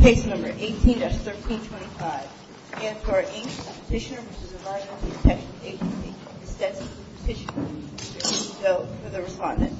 Page number 18-1325. ESR, Inc. petitioner v. supervisor v. EPA petitioner v. EPA petitioner v. EPA petitioner v. EPA petitioner v. EPA petitioner v. EPA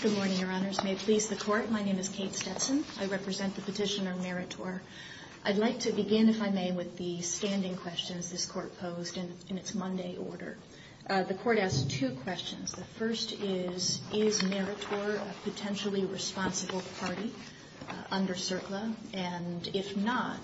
Good morning, your honors. May it please the court, my name is Kate Stetson. I represent the petitioner Meritor. I'd like to begin, if I may, with the standing questions this court posed in its Monday order. The court asked two questions. The first is, is Meritor a potentially responsible party under CERCLA, and if not,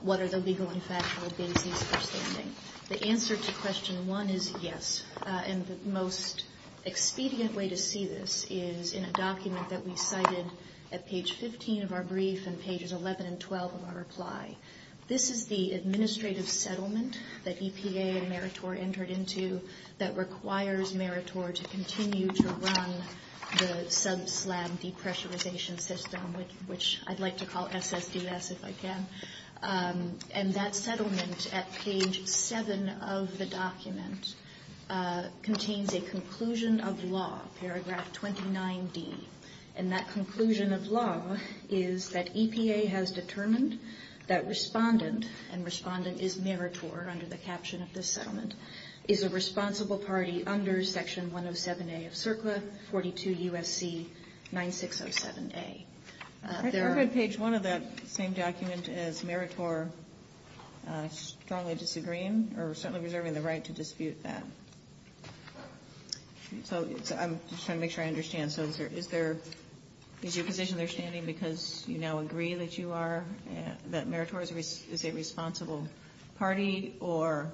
what are the legal and factual basis for standing? The answer to question one is yes, and the most expedient way to see this is in a document that we cited at page 15 of our brief and pages 11 and 12 of our reply. This is the administrative settlement that EPA and Meritor entered into that requires Meritor to continue to run the sub-SLAM depressurization system, which I'd like to call SSDS if I can. And that settlement at page 7 of the document contains a conclusion of law, paragraph 29b. And that conclusion of law is that EPA has determined that respondent, and respondent is Meritor, under the caption of this settlement, is a responsible party under section 107A of CERCLA, 42 U.S.C. 9607A. I'm going to page one of that same document as Meritor strongly disagreeing, or strongly reserving the right to dispute that. So I'm just trying to make sure I understand. So is there, is your position they're standing because you now agree that you are, that Meritor is a responsible party, or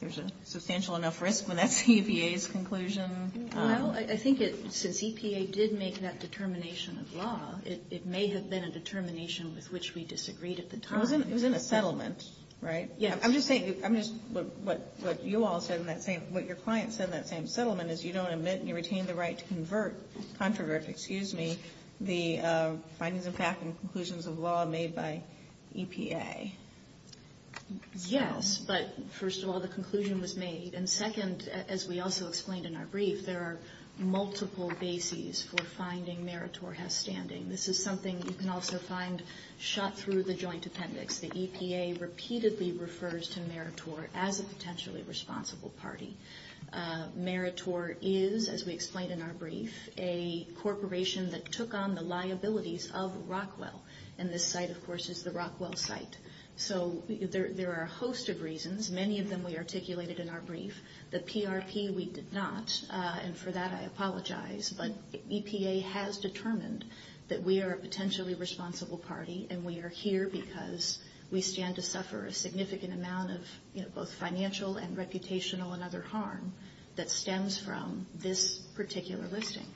there's a substantial enough risk when that's EPA's conclusion? Well, I think it's, since EPA did make that determination of law, it may have been a determination with which we disagreed at the time. It was in a settlement, right? Yeah. I'm just saying, I'm just, what you all said in that same, what your client said in that same settlement is you don't admit and you retain the right to convert, controversy, excuse me, the findings and conclusions of law made by EPA. Yes, but first of all, the conclusion was made. And second, as we also explained in our brief, there are multiple bases for finding Meritor has standing. This is something you can also find shot through the joint appendix. The EPA repeatedly refers to Meritor as a corporation that took on the liabilities of Rockwell. And this site, of course, is the Rockwell site. So there are a host of reasons, many of them we articulated in our brief. The PRP we did not, and for that I apologize. But EPA has determined that we are a potentially responsible party and we are here because we stand to suffer a significant amount of, you know, both financial and reputational and other harm that stems from this particular listing.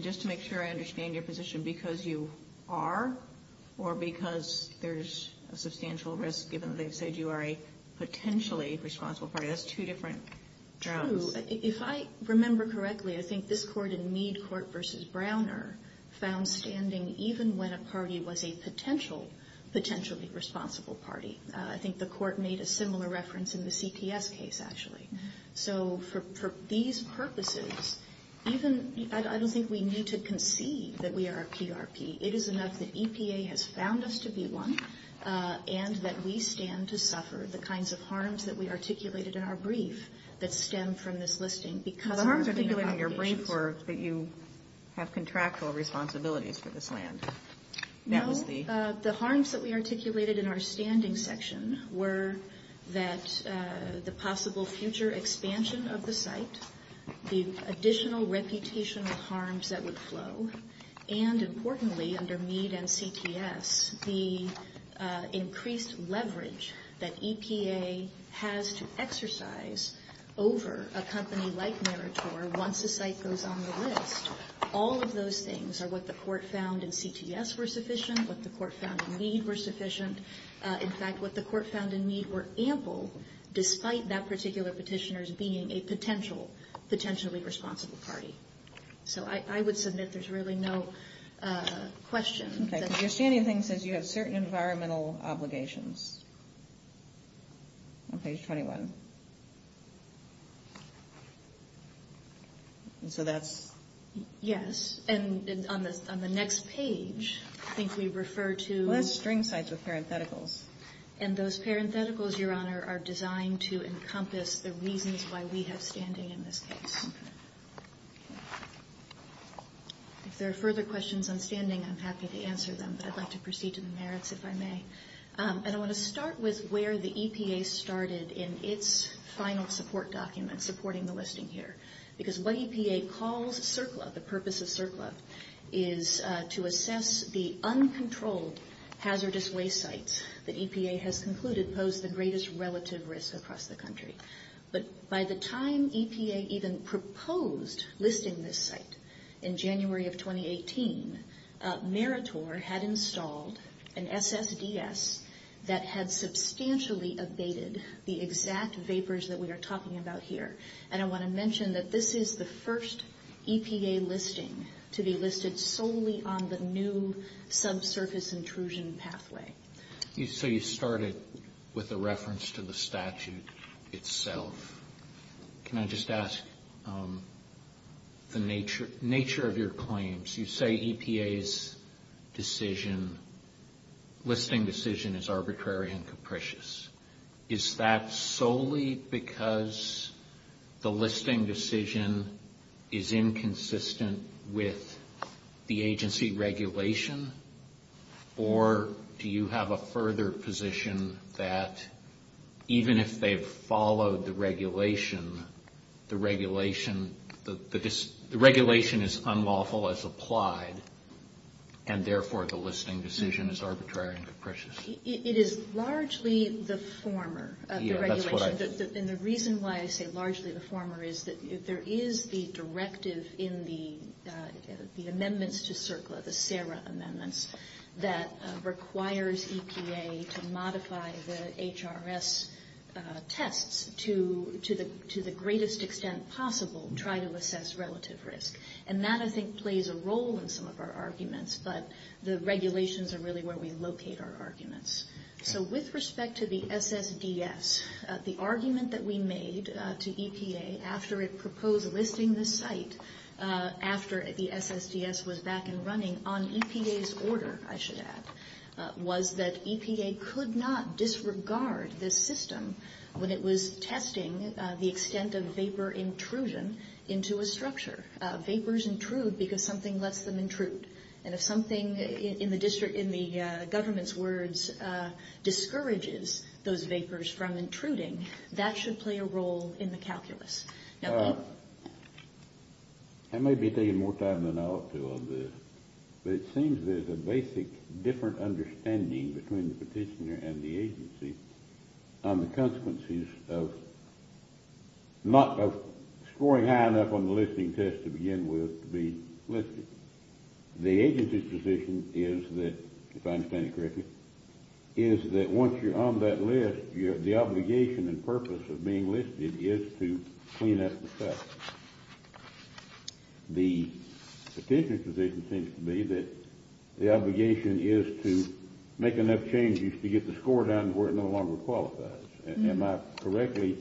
Just to make sure I understand your position, because you are or because there's a substantial risk given they said you are a potentially responsible party, that's two different terms. If I remember correctly, I think this court in Mead court versus Browner found standing even when a party was a potential, potentially responsible party. I think the court made a similar reference in the CPS case, actually. So for these purposes, even, I don't think we need to concede that we are a PRP. It is enough that EPA has found us to be one and that we stand to suffer the kinds of harms that we articulated in our brief that stem from this listing. The harms articulated in your brief were that you have contractual responsibilities for this land. No. The harms that we articulated in our standing section were that the possible future expansion of the site, the additional reputational harms that would flow, and importantly, under Mead and CPS, the increased leverage that EPA has to exercise over a company like Meritor once the site goes on the list. All of those things are what the court found in CPS were sufficient, what the court found in Mead were sufficient. In fact, what the court found in Mead were ample, despite that particular petitioner's being a potential, potentially responsible party. So I would submit there's really no question. Okay. If you see anything that says you have certain environmental obligations on page 21, so that's... Yes. And on the next page, I think we refer to... What are string sites of parentheticals? And those parentheticals, Your Honor, are designed to encompass the reasons why we have standing in this case. If there are further questions on standing, I'm happy to answer them, but I'd like to proceed to the merits, if I may. And I want to start with where the final support document supporting the listing here. Because what EPA calls CERCLA, the purpose of CERCLA, is to assess the uncontrolled hazardous waste sites that EPA has concluded pose the greatest relative risk across the country. But by the time EPA even proposed listing this site in January of 2018, Meritor had installed an SSDS that had substantially abated the exact vapors that we are talking about here. And I want to mention that this is the first EPA listing to be listed solely on the new subsurface intrusion pathway. So you started with a reference to the statute itself. Can I just ask the nature of your claims? You say EPA's decision, listing decision, is arbitrary and capricious. Is that solely because the listing decision is inconsistent with the agency regulation? Or do you have a further position that even if they've followed the regulation, the regulation is unlawful as applied and therefore the listing decision is arbitrary and capricious? It is largely the former of the regulation. And the reason why I say largely the former is that there is the directive in the amendments to CERCLA, the SARA amendments, that requires EPA to modify the HRS tests to the greatest extent possible and try to assess relative risk. And that I think plays a role in some of our arguments, but the regulations are really where we locate our arguments. So with respect to the SSDS, the argument that we made to EPA after it proposed listing the site after the SSDS was back and running on EPA's order, I should add, was that EPA could not disregard this system when it was testing the extent of vapor intrusion into a structure. Vapors intrude because something lets them intrude. And if something in the government's words discourages those vapors from intruding, that I may be taking more time than I ought to on this, but it seems there's a basic different understanding between the petitioner and the agency on the consequences of scoring high enough on the listing test to begin with to be listed. The agency's position is that, if I understand you correctly, is that once you're on that list, the obligation and purpose of being listed is to clean up the site. The petitioner's position seems to be that the obligation is to make enough changes to get the score down to where it no longer qualifies. Am I correctly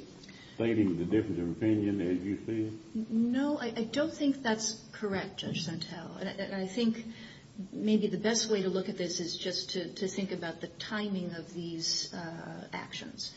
stating the difference of opinion as you see it? No, I don't think that's correct, Judge Santel. I think maybe the best way to look at this is just to think about the timing of these actions.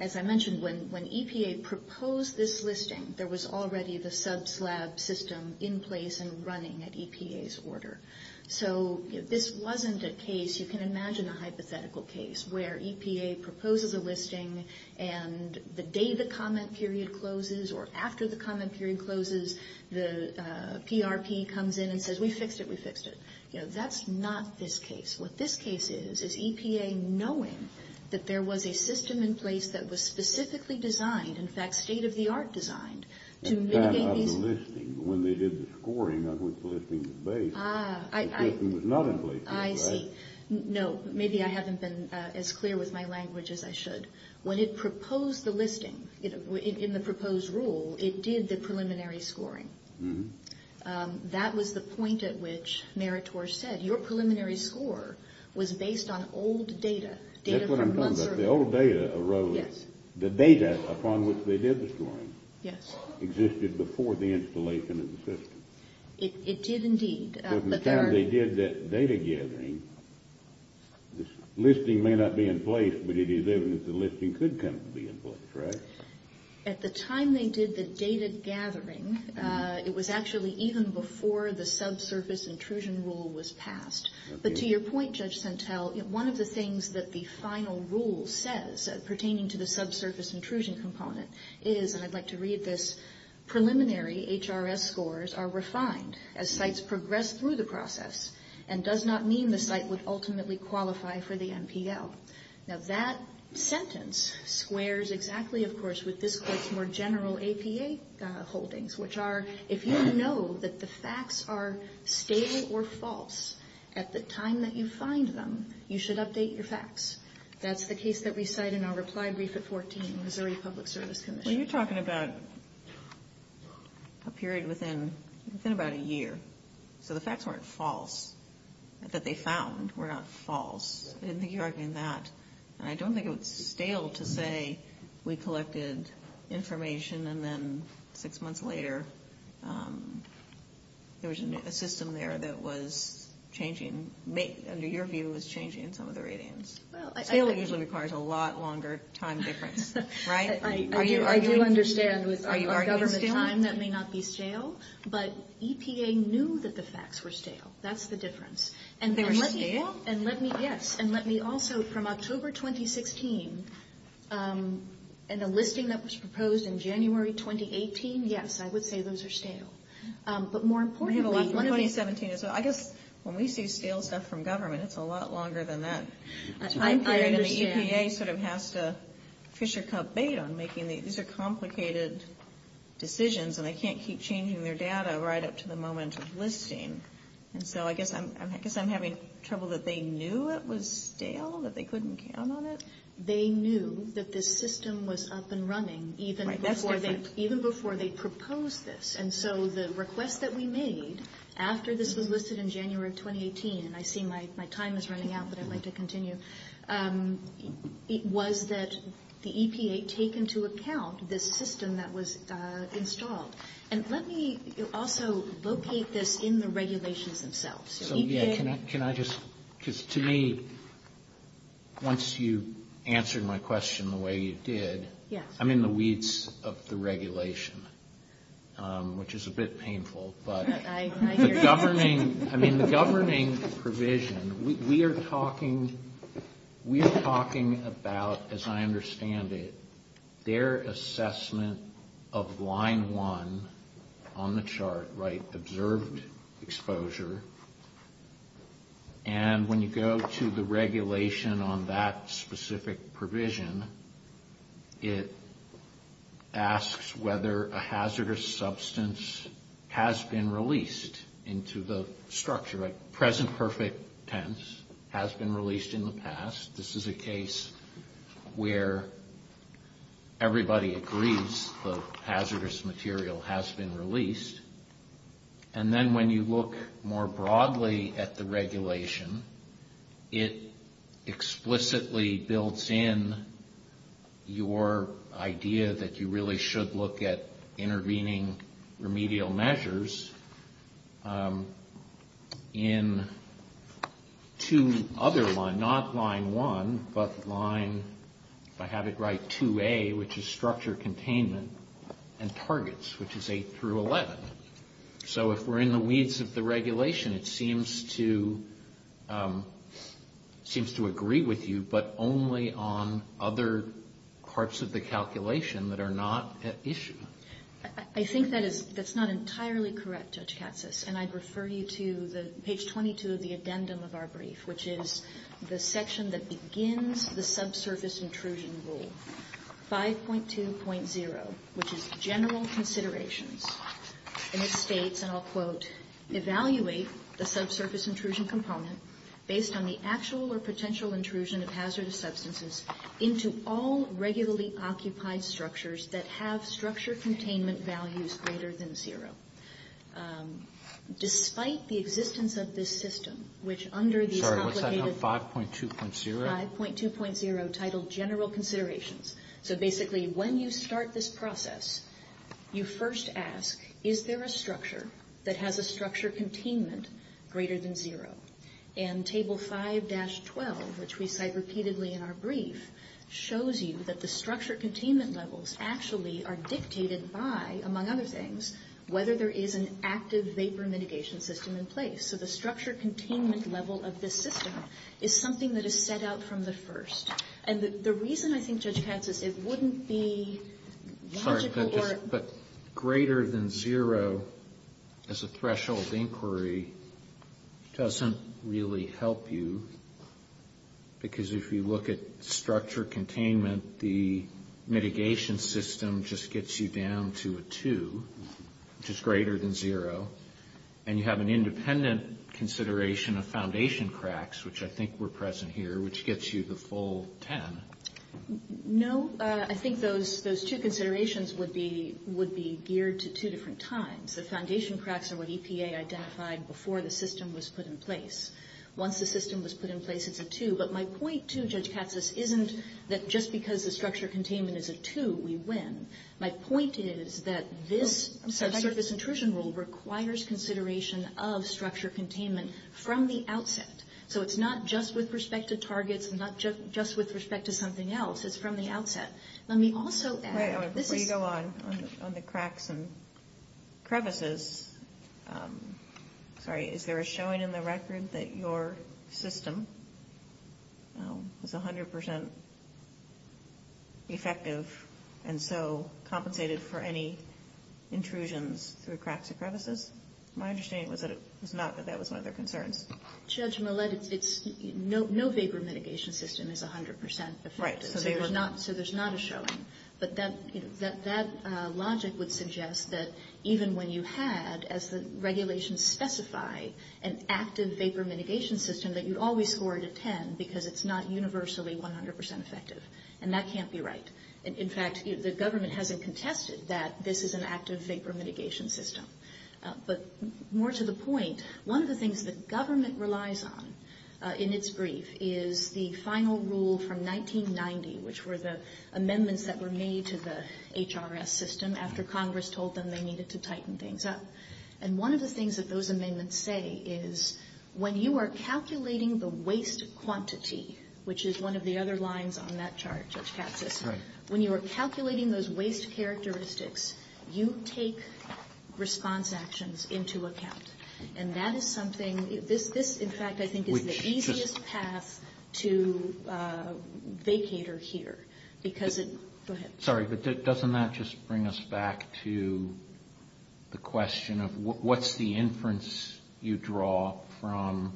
As I mentioned, when EPA proposed this listing, there was already the subslab system in place and running at EPA's order. So, if this wasn't a case, you can imagine a hypothetical case where EPA proposes a listing and the day the comment period closes or after the comment period closes, the PRP comes in and says, we fixed it, we fixed it. That's not this case. What this case is, is EPA knowing that there was a system in place that was specifically designed, in fact, state-of-the-art designed, to make a... It's not about the listing. When they did the scoring, not with the listing at the base, the system was not in place. I see. No, maybe I haven't been as clear with my language as I should. When it proposed the listing, in the proposed rule, it did the preliminary scoring. That was the point at which Meritor said, your preliminary score was based on old data. That's what I'm talking about. The old data arose... Yes. The data upon which they did the scoring... Yes. ...existed before the installation of the system. It did, indeed. Because the time they did that data gathering, the listing may not be in place, but it is the listing could kind of be in place, right? At the time they did the data gathering, it was actually even before the subsurface intrusion rule was passed. But to your point, Judge Sentelle, one of the things that the final rule says, pertaining to the subsurface intrusion component, is, and I'd like to read this, preliminary HRS scores are refined as sites progress through the process, and does not mean the site would ultimately qualify for the MPL. Now, that sentence squares exactly, of course, with this court's more general APA holdings, which are, if you know that the facts are stable or false at the time that you find them, you should update your facts. That's the case that we cite in our reply brief at 14, Missouri Public Service Commission. So you're talking about a period within about a year. So the facts weren't false, that they found were not false. I don't think it was stale to say we collected information and then six months later, there was a system there that was changing, under your view, was changing some of the ratings. Stale usually requires a lot longer time difference, right? I do understand with government time, that may not be stale, but EPA knew that the facts were stale. That's the difference. They're stale? And let me, yes, and let me also, from October 2016, in the listing that was proposed in January 2018, yes, I would say those are stale. But more importantly... We have a lot, 2017 is, I guess, when we see stale stuff from government, it's a lot longer than that. I'm sorry, but the EPA sort of has to fish your cup bait on making these complicated decisions, and they can't keep changing their data right up to the moment of listing. And so I guess I'm having trouble that they knew it was stale, that they couldn't count on it? They knew that this system was up and running even before they proposed this. And so the request that we made after this was listed in January 2018, and I see my time is running out, but I'd like to continue, was that the EPA take into account this system that was installed. And let me also locate this in the regulations themselves. So, yeah, can I just, just to me, once you answered my question the way you did, I'm in the weeds of the regulation, which is a bit painful, but... I hear you. I mean, the governing provision, we are talking, we are talking about, as I understand it, their assessment of line one on the chart, right, observed exposure. And when you go to the regulation on that specific provision, it asks whether a hazardous substance has been released into the structure. At present perfect tense, has been released in the past. This is a case where everybody agrees the hazardous material has been released. And then when you look more broadly at the regulation, it explicitly builds in your idea that you have hazardous substances in two other lines, not line one, but line, if I have it right, 2A, which is structure containment, and targets, which is 8 through 11. So if we're in the weeds of the regulation, it seems to, seems to agree with you, but only on other parts of the calculation that are not at issue. I think that is, that's not entirely correct, Judge Katsas, and I'd refer you to page 22 of the addendum of our brief, which is the section that begins the subsurface intrusion rule, 5.2.0, which is general considerations. And it states, and I'll quote, evaluate the subsurface intrusion component based on the actual or potential intrusion of hazardous substances into all regularly occupied structures that have structure containment values greater than zero. Despite the existence of this system, which under the... Sorry, what's that called? 5.2.0? 5.2.0, titled general considerations. So basically, when you start this process, you first ask, is there a structure that has a structure containment greater than zero? And table 5-12, which we cite repeatedly in our brief, shows you that the structure containment levels actually are dictated by, among other things, whether there is an active vapor mitigation system in place. So the structure containment level of this system is something that is set out from the first. And the reason, I think, Judge Katsas, it wouldn't be... I'm sorry, but greater than zero as a threshold of inquiry doesn't really help you. Because if you look at structure containment, the mitigation system just gets you down to a two, which is greater than zero. And you have an independent consideration of foundation cracks, which I think were present here, which gets you the full 10. No, I think those two considerations would be geared to two different times. The foundation cracks are what EPA identified before the system was put in place. Once the system was put in place, it's a two. But my point to Judge Katsas isn't that just because the structure containment is a two, we win. My point is that this intrusion rule requires consideration of structure containment from the outset. So it's not just with respect to targets, it's not just with respect to something else. It's from the outset. Let me also add... Before you go on, on the cracks and crevices, sorry, is there a showing in the record that your system was 100% effective and so compensated for any intrusions through cracks and crevices? My understanding is not that that was one of their concerns. Judge Millett, no vapor mitigation system is 100% effective. So there's not a showing. But that logic would suggest that even when you had, as the regulations specify, an active vapor mitigation system, that you'd always score it a 10 because it's not universally 100% effective. And that can't be right. In fact, the government hasn't contested that this is an active vapor mitigation system. But more to the point, one of the things that government relies on in its brief is the final rule from 1990, which were the amendments that were made to the HRS system after Congress told them they needed to tighten things up. And one of the things that those amendments say is when you are calculating the waste quantity, which is one of the other lines on that chart, Judge Katsas, when you are calculating the waste quantity, you take response actions into account. And that is something, in fact, I think is the easiest path to vacate or hear. Sorry, but doesn't that just bring us back to the question of what's the inference you and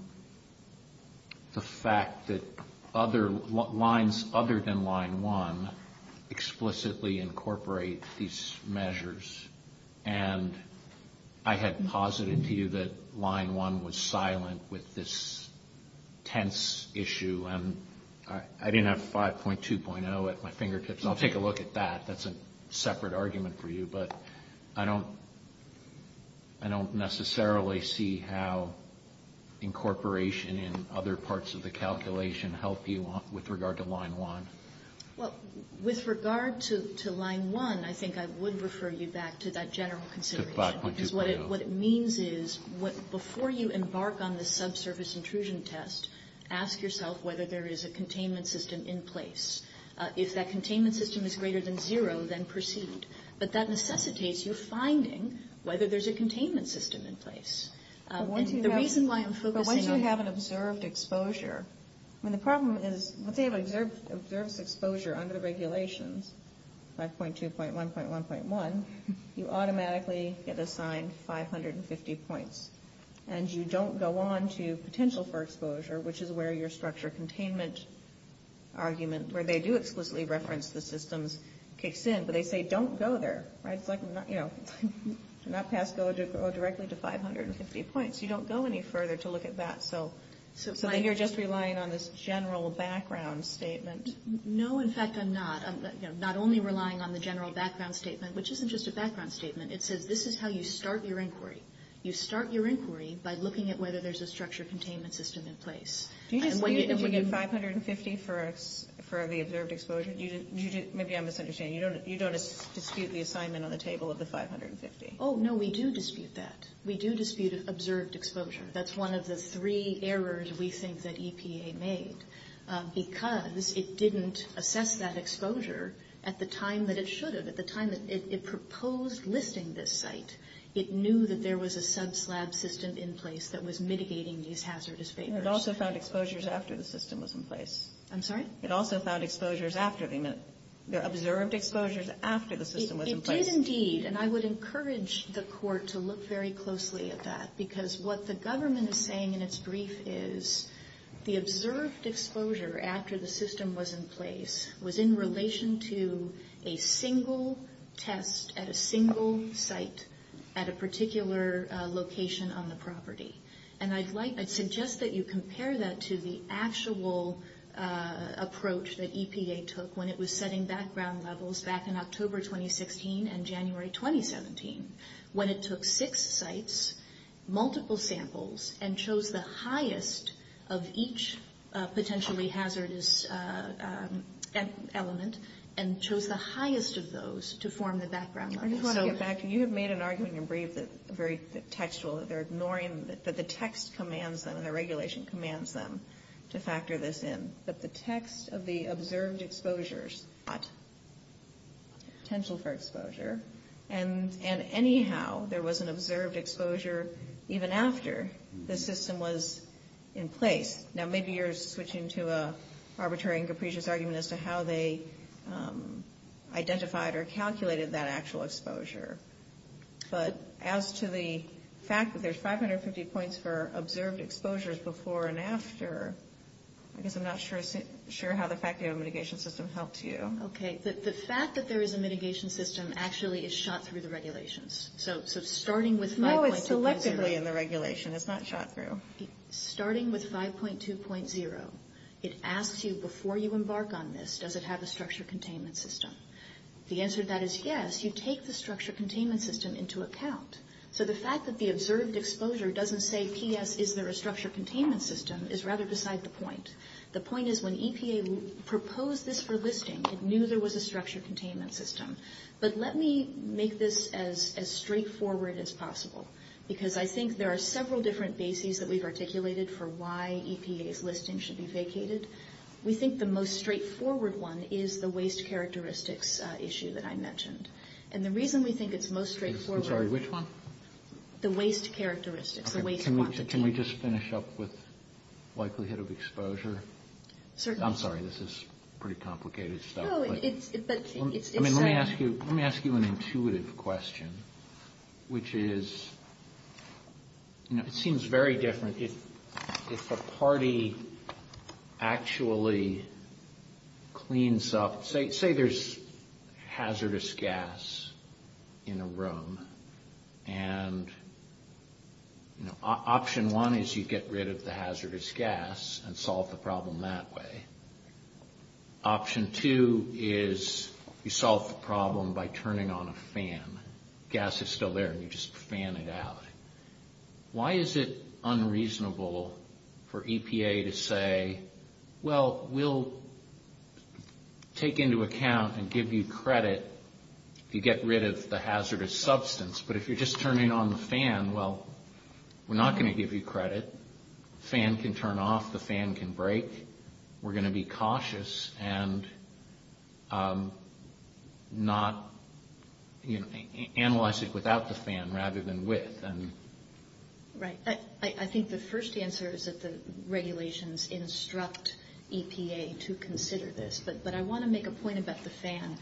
I had posited to you that line one was silent with this tense issue. And I didn't have 5.2.0 at my fingertips. I'll take a look at that. That's a separate argument for you. But I don't necessarily see how incorporation in other parts of the calculation help you with regard to line one. Well, with regard to line one, I think I would refer you back to that general consideration. What it means is before you embark on the subsurface intrusion test, ask yourself whether there is a containment system in place. If that containment system is greater than zero, then proceed. But that necessitates you finding whether there's a containment system in place. Once you have an observed exposure under regulation, 5.2.1.1.1, you automatically get assigned 550 points. And you don't go on to potential for exposure, which is where your structure of containment argument, where they do explicitly reference the systems, kicks in. But they don't go any further to look at that. So you're just relying on this general background statement. No. In fact, I'm not. I'm not only relying on the general background statement, which isn't just a background statement. It says this is how you start your inquiry. You start your inquiry by looking at whether there's a structure of containment system in place. Do you get 550 for the observed exposure? Maybe I'm misunderstanding. You don't dispute the assignment on the table of the 550? Oh, no. We do dispute that. We do dispute observed exposure. That's one of the three errors we think that EPA made, because it didn't assess that exposure at the time that it should have. At the time that it proposed listing this site, it knew that there was a sub-slab system in place that was mitigating these hazardous fate risks. And it also found exposures after the system was in place. I'm sorry? It also found exposures after the system was in place. It did indeed. And I would encourage the court to look very closely at that, because what the government is saying in its brief is the observed exposure after the system was in place was in relation to a single test at a single site at a particular location on the property. And I'd like to suggest that you compare that to the actual approach that EPA took in January 2016 and January 2017, when it took six sites, multiple samples, and chose the highest of each potentially hazardous element, and chose the highest of those to form the background. I just want to get back to, you have made an argument in brief that's very textual, that they're ignoring, that the text commands them and the regulation commands them to factor this in, that the text of the observed exposure is not potential for exposure. And anyhow, there was an observed exposure even after the system was in place. Now, maybe you're switching to an arbitrary and capricious argument as to how they identified or calculated that actual exposure. But as to the fact that there's 550 points for observed exposures before and after, I guess I'm not sure how the fact that you have a mitigation system helps you. Okay, the fact that there is a mitigation system actually is shot through the regulations. So starting with 5.2... No, it's selectively in the regulation. It's not shot through. Starting with 5.2.0, it asks you before you embark on this, does it have a structure containment system? The answer to that is yes. You take the structure containment system into account. So the fact that the observed exposure doesn't say, P.S., is there a structure containment system, is rather beside the point. The point is when EPA proposed this for listing, it knew there was a structure containment system. But let me make this as straightforward as possible, because I think there are several different bases that we've articulated for why EPA's listing should be vacated. We think the most straightforward one is the waste characteristics issue that I mentioned. And the reason we think it's most straightforward... I'm sorry, which one? The waste characteristics. Can we just finish up with likelihood of exposure? Certainly. I'm sorry, this is pretty complicated stuff. No, it's... Let me ask you an intuitive question, which is... It seems very different if a party actually cleans up... Say there's hazardous gas in a room, and option one is you get rid of the hazardous gas and solve the problem that way. Option two is you solve the problem by turning on a fan. Gas is still there, and you just fan it out. Why is it unreasonable for EPA to say, well, we'll take into account and give you credit if you get rid of the hazardous substance, but if you're just turning on the fan, well, we're not going to give you credit. The fan can turn off, the fan can break. We're going to be cautious and not... Analyze it without the fan rather than with. Right. I think the first answer is that the regulations instruct EPA to consider this, but I want to make a point about the fan.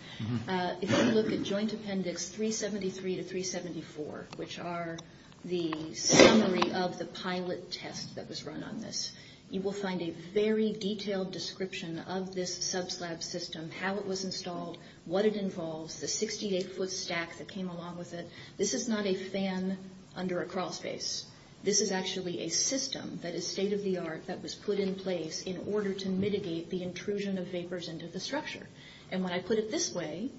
If you look at Joint Appendix 373 to 374, which are the summary of the pilot test that was run on this, you will find a very detailed description of this subslab system, how it was installed, what it involved, the 68-foot stack that came along with it. This is not a fan under a crawlspace. This is actually a system that is state-of-the-art that was put in place in order to mitigate the intrusion of vapors into the structure. And when I put it this way,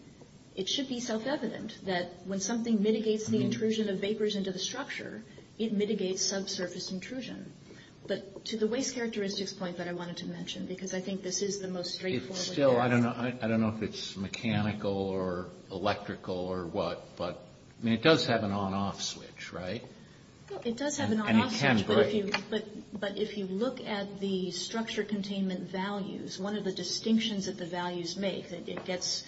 it should be self-evident that when something mitigates the intrusion of vapors into the structure, it mitigates subsurface intrusion. But to the waste characteristics point that I wanted to mention, because I think this is the most straightforward... Still, I don't know if it's mechanical or electrical or what, but it does have an on-off switch, right? It does have an on-off switch, but if you look at the structure containment values, one of the distinctions that the values make, it gets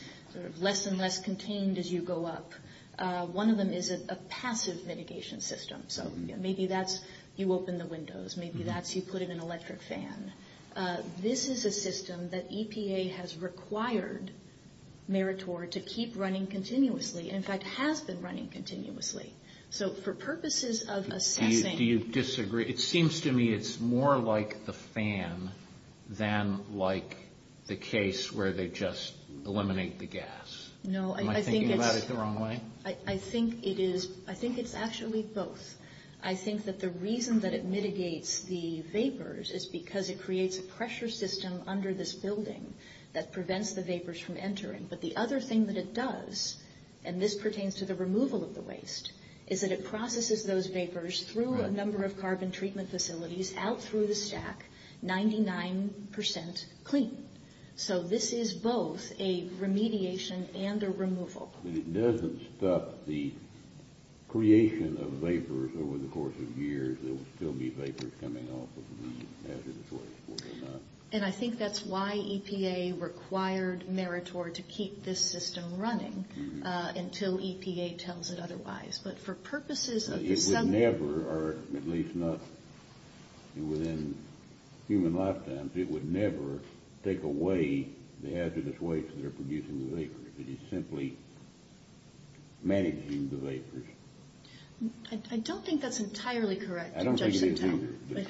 less and less contained as you go up. One of them is a passive mitigation system. So maybe that's you open the windows. Maybe that's you put in an electric fan. This is a system that EPA has required Meritor to keep running continuously, in fact, has been running continuously. So for purposes of assessing... Do you disagree? It seems to me it's more like the fan than like the case where they just eliminate the gas. Am I thinking about it the wrong way? I think it's actually both. I think that the reason that it mitigates the vapors is because it creates a pressure system under this building that prevents the vapors from entering. But the other thing that it does, and this pertains to the removal of the waste, is that it processes those vapors through a number of carbon treatment facilities out through the stack, 99% clean. So this is both a remediation and a removal. It doesn't stop the creation of vapors over the course of years. There will still be vapors coming off of the hazardous waste. And I think that's why EPA required Meritor to keep this system running until EPA tells it otherwise. But for purposes of... It would never, at least not within human lifetimes, it would never take away the hazardous waste that are producing the vapors. It is simply managing the vapors. I don't think that's entirely correct. I don't think they do. But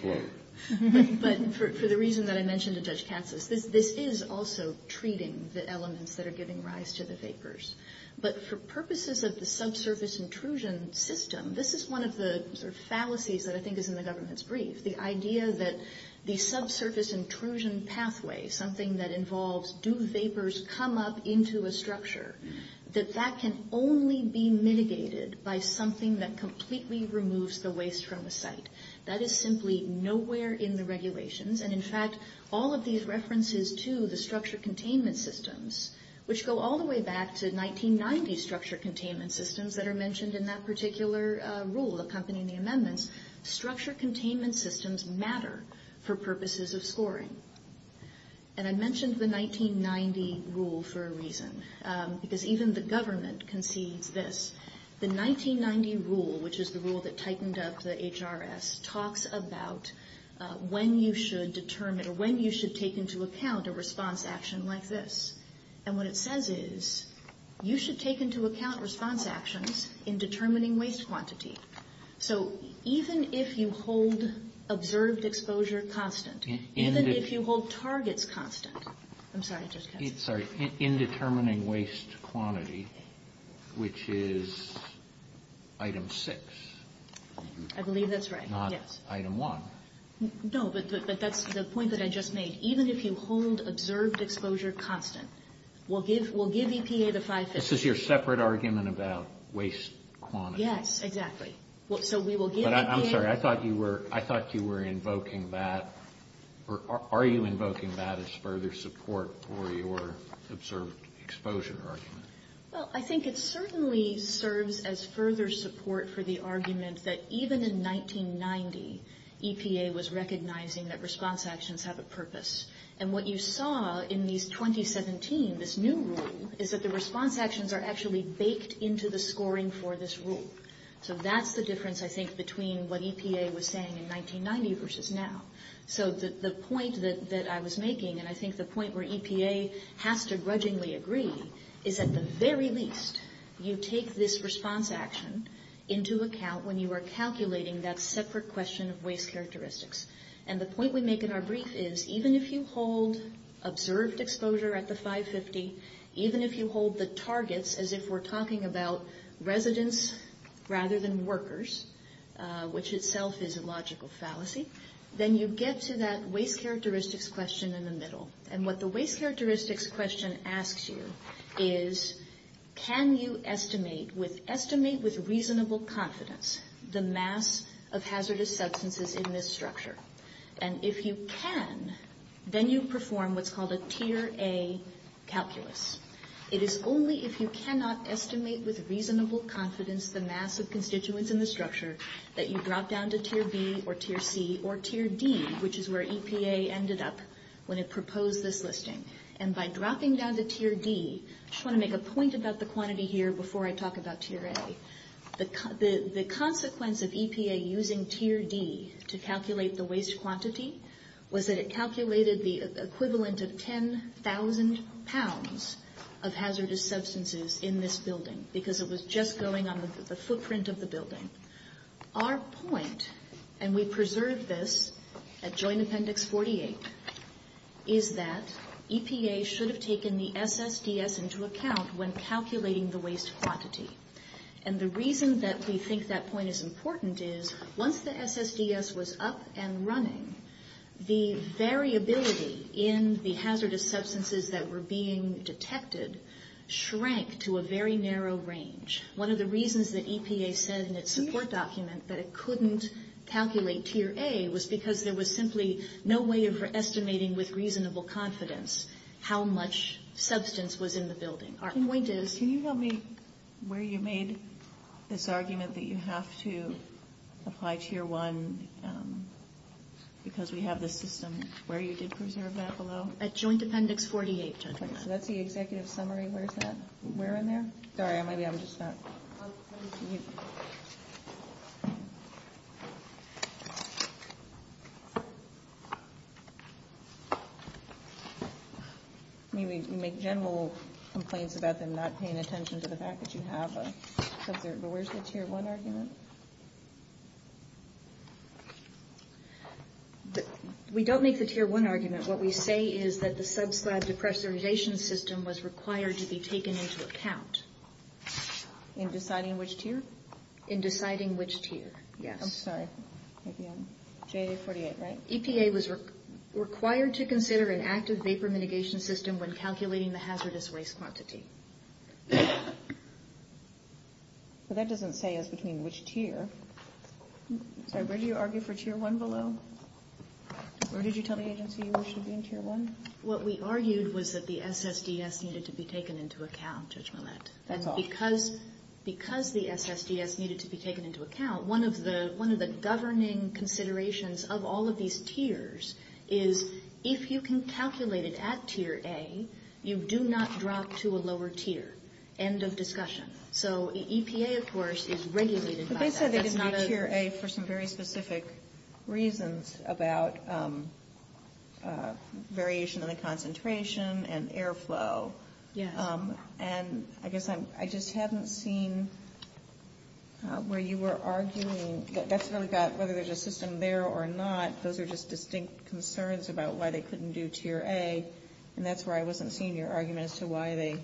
for the reason that I mentioned to Judge Cassis, this is also treating the elements that are giving rise to the vapors. But for purposes of the subsurface intrusion system, this is one of the fallacies that I think is in the government's brief, the idea that the subsurface intrusion pathway, something that involves do vapors come up into a structure, that that can only be mitigated by something that completely removes the waste from the site. That is simply nowhere in the regulations. And, in fact, all of these references to the structure containment systems, which go all the way back to 1990 structure containment systems that are mentioned in that particular rule accompanying the amendments, structure containment systems matter for purposes of scoring. And I mentioned the 1990 rule for a reason. Because even the government can see this. The 1990 rule, which is the rule that tightened up the HRS, talks about when you should determine or when you should take into account a response action like this. And what it says is you should take into account response actions in determining waste quantity. So even if you hold observed exposure constant, even if you hold targets constant. I'm sorry, I just got it. Sorry. In determining waste quantity, which is item six. I believe that's right. Not item one. No, but that's the point that I just made. Even if you hold observed exposure constant, we'll give EPA the five cents. This is your separate argument about waste quantity. Yes, exactly. I'm sorry, I thought you were invoking that. Are you invoking that as further support for your observed exposure argument? Well, I think it certainly serves as further support for the argument that even in 1990, EPA was recognizing that response actions have a purpose. And what you saw in these 2017, this new rule, is that the response actions are actually baked into the scoring for this rule. So that's the difference, I think, between what EPA was saying in 1990 versus now. So the point that I was making, and I think the point where EPA has to grudgingly agree, is at the very least, you take this response action into account when you are calculating that separate question of waste characteristics. And the point we make in our brief is even if you hold observed exposure at the 550, even if you hold the targets as if we're talking about residents rather than workers, which itself is a logical fallacy, then you get to that waste characteristics question in the middle. And what the waste characteristics question asks you is, can you estimate with reasonable confidence the mass of hazardous substances in this structure? And if you can, then you perform what's called a Tier A calculus. It is only if you cannot estimate with reasonable confidence the mass of constituents in the structure that you drop down to Tier B or Tier C or Tier D, which is where EPA ended up when it proposed this listing. And by dropping down to Tier D, I just want to make a point about the quantity here before I talk about Tier A. The consequence of EPA using Tier D to calculate the waste quantity was that it calculated the equivalent of 10,000 pounds of hazardous substances in this building because it was just going on the footprint of the building. Our point, and we preserved this at Joint Appendix 48, is that EPA should have taken the SSDS into account when calculating the waste quantity. And the reason that we think that point is important is, once the SSDS was up and running, the variability in the hazardous substances that were being detected shrank to a very narrow range. One of the reasons that EPA said in its support document that it couldn't calculate Tier A was because there was simply no way of estimating with reasonable confidence how much substance was in the building. Our point is... Can you tell me where you made this argument that you have to apply Tier 1 because we have this system? Where you did preserve that below? At Joint Appendix 48. Okay. What's the executive summary? Where is that? Where in there? Sorry, I might be able to just start. I'll send it to you. You make general complaints about them not paying attention to the fact that you have a... Where's the Tier 1 argument? We don't make the Tier 1 argument. What we say is that the sub-slab depressurization system was required to be taken into account. In deciding which tier? In deciding which tier. Yeah. I'm sorry. J48, right? EPA was required to consider an active vapor mitigation system when calculating the hazardous waste property. So that doesn't say as between which tier. Where did you argue for Tier 1 below? Where did you tell the agency it should be in Tier 1? What we argued was that the SSDS needed to be taken into account, Judge Millett. Because the SSDS needed to be taken into account, one of the governing considerations of all of these tiers is if you can calculate it at Tier A, you do not drop to a lower tier. End of discussion. So EPA, of course, is regulated by that. But they said they didn't do Tier A for some very specific reasons about variation in the concentration and airflow. Yeah. And I guess I just haven't seen where you were arguing that that's really not whether there's a system there or not. Those are just distinct concerns about why they couldn't do Tier A, and that's where I wasn't seeing your argument as to why they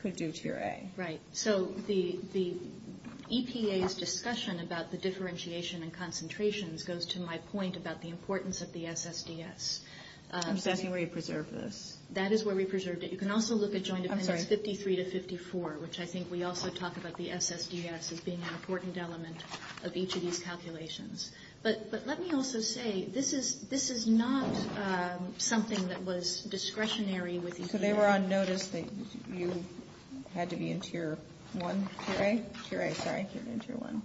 could do Tier A. Right. So the EPA's discussion about the differentiation and concentrations goes to my point about the importance of the SSDS. I'm thinking where you preserved this. That is where we preserved it. You can also look at Joint Offenders 53 to 54, which I think we also talked about the SSDS as being an important element of each of these calculations. But let me also say, this is not something that was discretionary with EPA. So they were on notice that you had to be in Tier 1, Tier A? Tier A, sorry. Tier 1.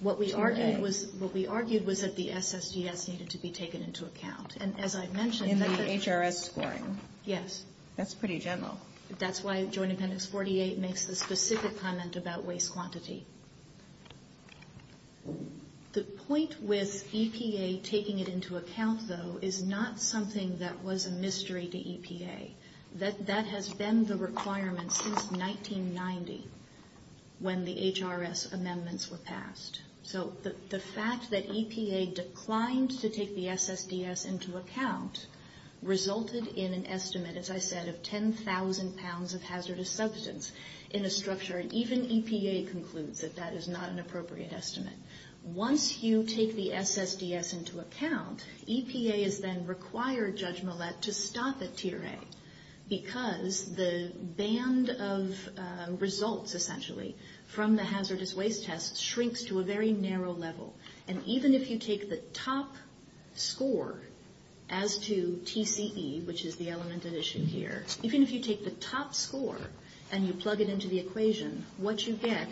What we argued was that the SSDS needed to be taken into account. And as I mentioned... In the HRS scoring. Yes. That's pretty general. That's why Joint Offenders 48 makes the specific comment about waste quantity. The point with EPA taking it into account, though, is not something that was a mystery to EPA. That has been the requirement since 1990 when the HRS amendments were passed. So the fact that EPA declined to take the SSDS into account resulted in an estimate, as I said, of 10,000 pounds of hazardous substance in a structure. And even EPA concludes that that is not an appropriate estimate. Once you take the SSDS into account, EPA has then required Judge Millett to stop at Tier A. Because the band of results, essentially, from the hazardous waste test shrinks to a very narrow level. And even if you take the top score as to TCE, which is the element at issue here, even if you take the top score and you plug it into the equation, what you get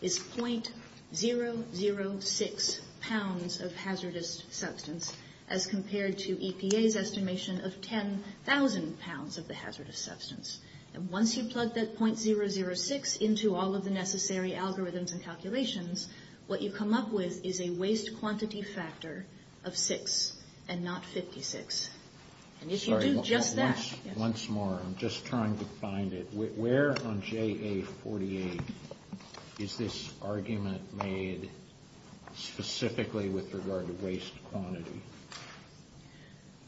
is .006 pounds of hazardous substance as compared to EPA's estimation of 10,000 pounds of the hazardous substance. And once you plug that .006 into all of the necessary algorithms and calculations, what you come up with is a waste quantity factor of 6 and not 56. Sorry, just once more. I'm just trying to find it. Where on JA48 is this argument made specifically with regard to waste quantity?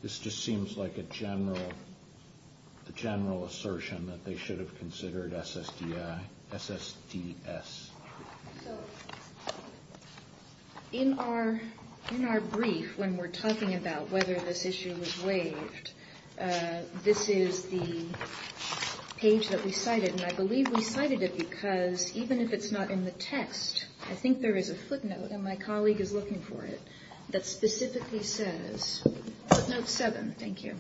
This just seems like a general assertion that they should have considered SSDS. In our brief, when we're talking about whether this issue was waived, this is the page that we cited. And I believe we cited it because even if it's not in the text, I think there is a footnote, and my colleague is looking for it, that specifically says, footnote 7, thank you,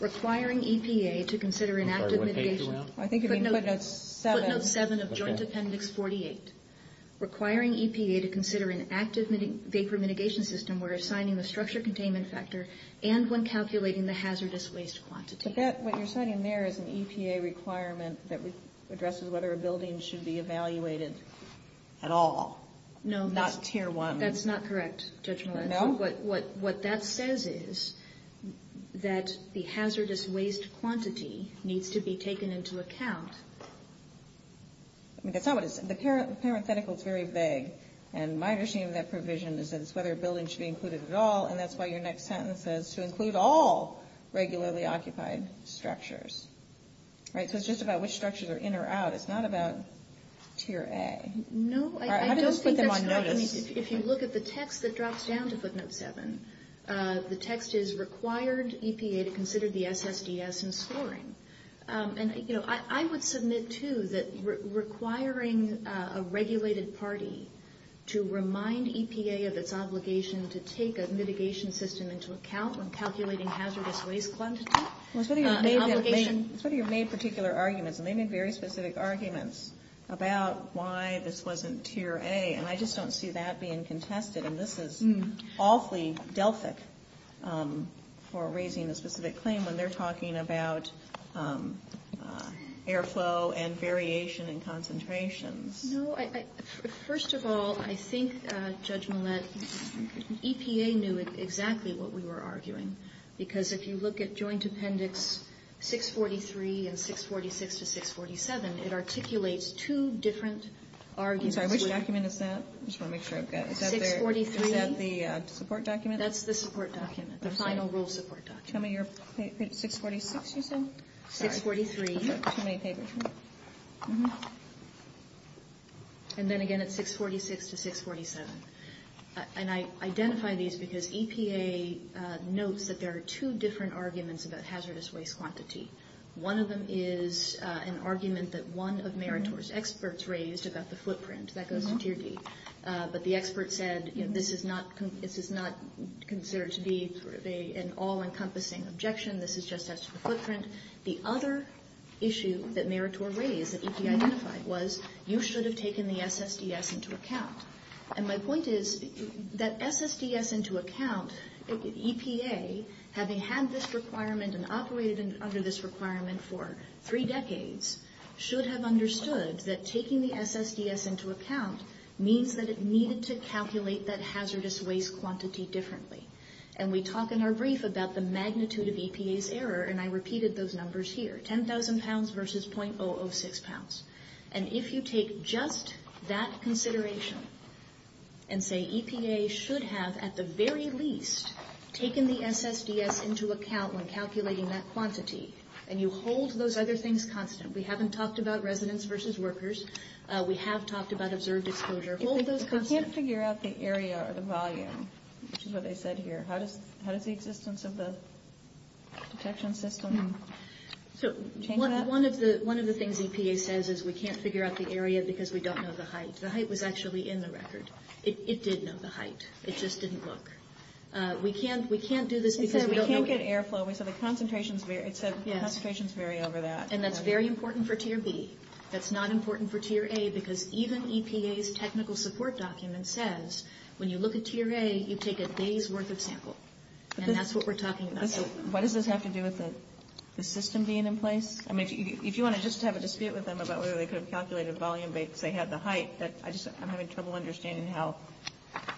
requiring EPA to consider an act of mitigation. Footnote 7 of Joint Appendix 48, requiring EPA to consider an active vapor mitigation system where assigning the structure containment factor and when calculating the hazardous waste quantity. But what you're citing there is an EPA requirement that addresses whether a building should be evaluated at all, not tier 1. That's not correct, Judge Melissa. What that says is that the hazardous waste quantity needs to be taken into account. The parenthetical is very vague, and my understanding of that provision is that it's whether a building should be included at all, and that's why your next sentence says to include all regularly occupied structures. Right, so it's just about which structures are in or out. It's not about tier A. No, I don't think that's correct. I mean, if you look at the text that drops down to footnote 7, the text is required EPA to consider the SSDS in scoring. And, you know, I would submit, too, that requiring a regulated party to remind EPA of its obligation to take a mitigation system into account when calculating hazardous waste quantity. Well, the city has made particular arguments, and they made very specific arguments about why this wasn't tier A, and I just don't see that being contested. And this is awfully delphic for raising a specific claim when they're talking about air flow and variation in concentrations. No, first of all, I think, Judge Millett, EPA knew exactly what we were arguing, because if you look at Joint Appendix 643 and 646 to 647, it articulates two different arguments. Sorry, which document is that? 643. Is that the support document? That's the support document, the final rule support document. Tell me your favorite 646, you said? 643. And then, again, it's 646 to 647. And I identify these because EPA notes that there are two different arguments about hazardous waste quantity. One of them is an argument that one of Meritor's experts raised about the footprint, that goes to tier D. But the expert said, you know, this is not considered to be an all-encompassing objection, this is just a footprint. The other issue that Meritor raised that EPA identified was, you should have taken the SSDS into account. And my point is, that SSDS into account, EPA, having had this requirement and operated under this requirement for three decades, should have understood that taking the SSDS into account means that it needed to calculate that hazardous waste quantity differently. And we talk in our brief about the magnitude of EPA's error, and I repeated those numbers here. 10,000 pounds versus .006 pounds. And if you take just that consideration and say EPA should have, at the very least, taken the SSDS into account when calculating that quantity, and you hold those other things constant. We haven't talked about residents versus workers. We have talked about observed exposure. We can't figure out the area or the volume, which is what they said here. How does the existence of the detection system change that? One of the things EPA says is we can't figure out the area because we don't know the height. The height was actually in the record. It did know the height. It just didn't look. We can't do this because we don't know. We can't get airflow because the concentrations vary over that. And that's very important for tier B. That's not important for tier A because even EPA's technical support document says when you look at tier A, you take a day's worth of sample. And that's what we're talking about. What does this have to do with the system being in place? I mean, if you want to just have a dispute with them about whether they could have calculated volume if they had the height, I'm having trouble understanding how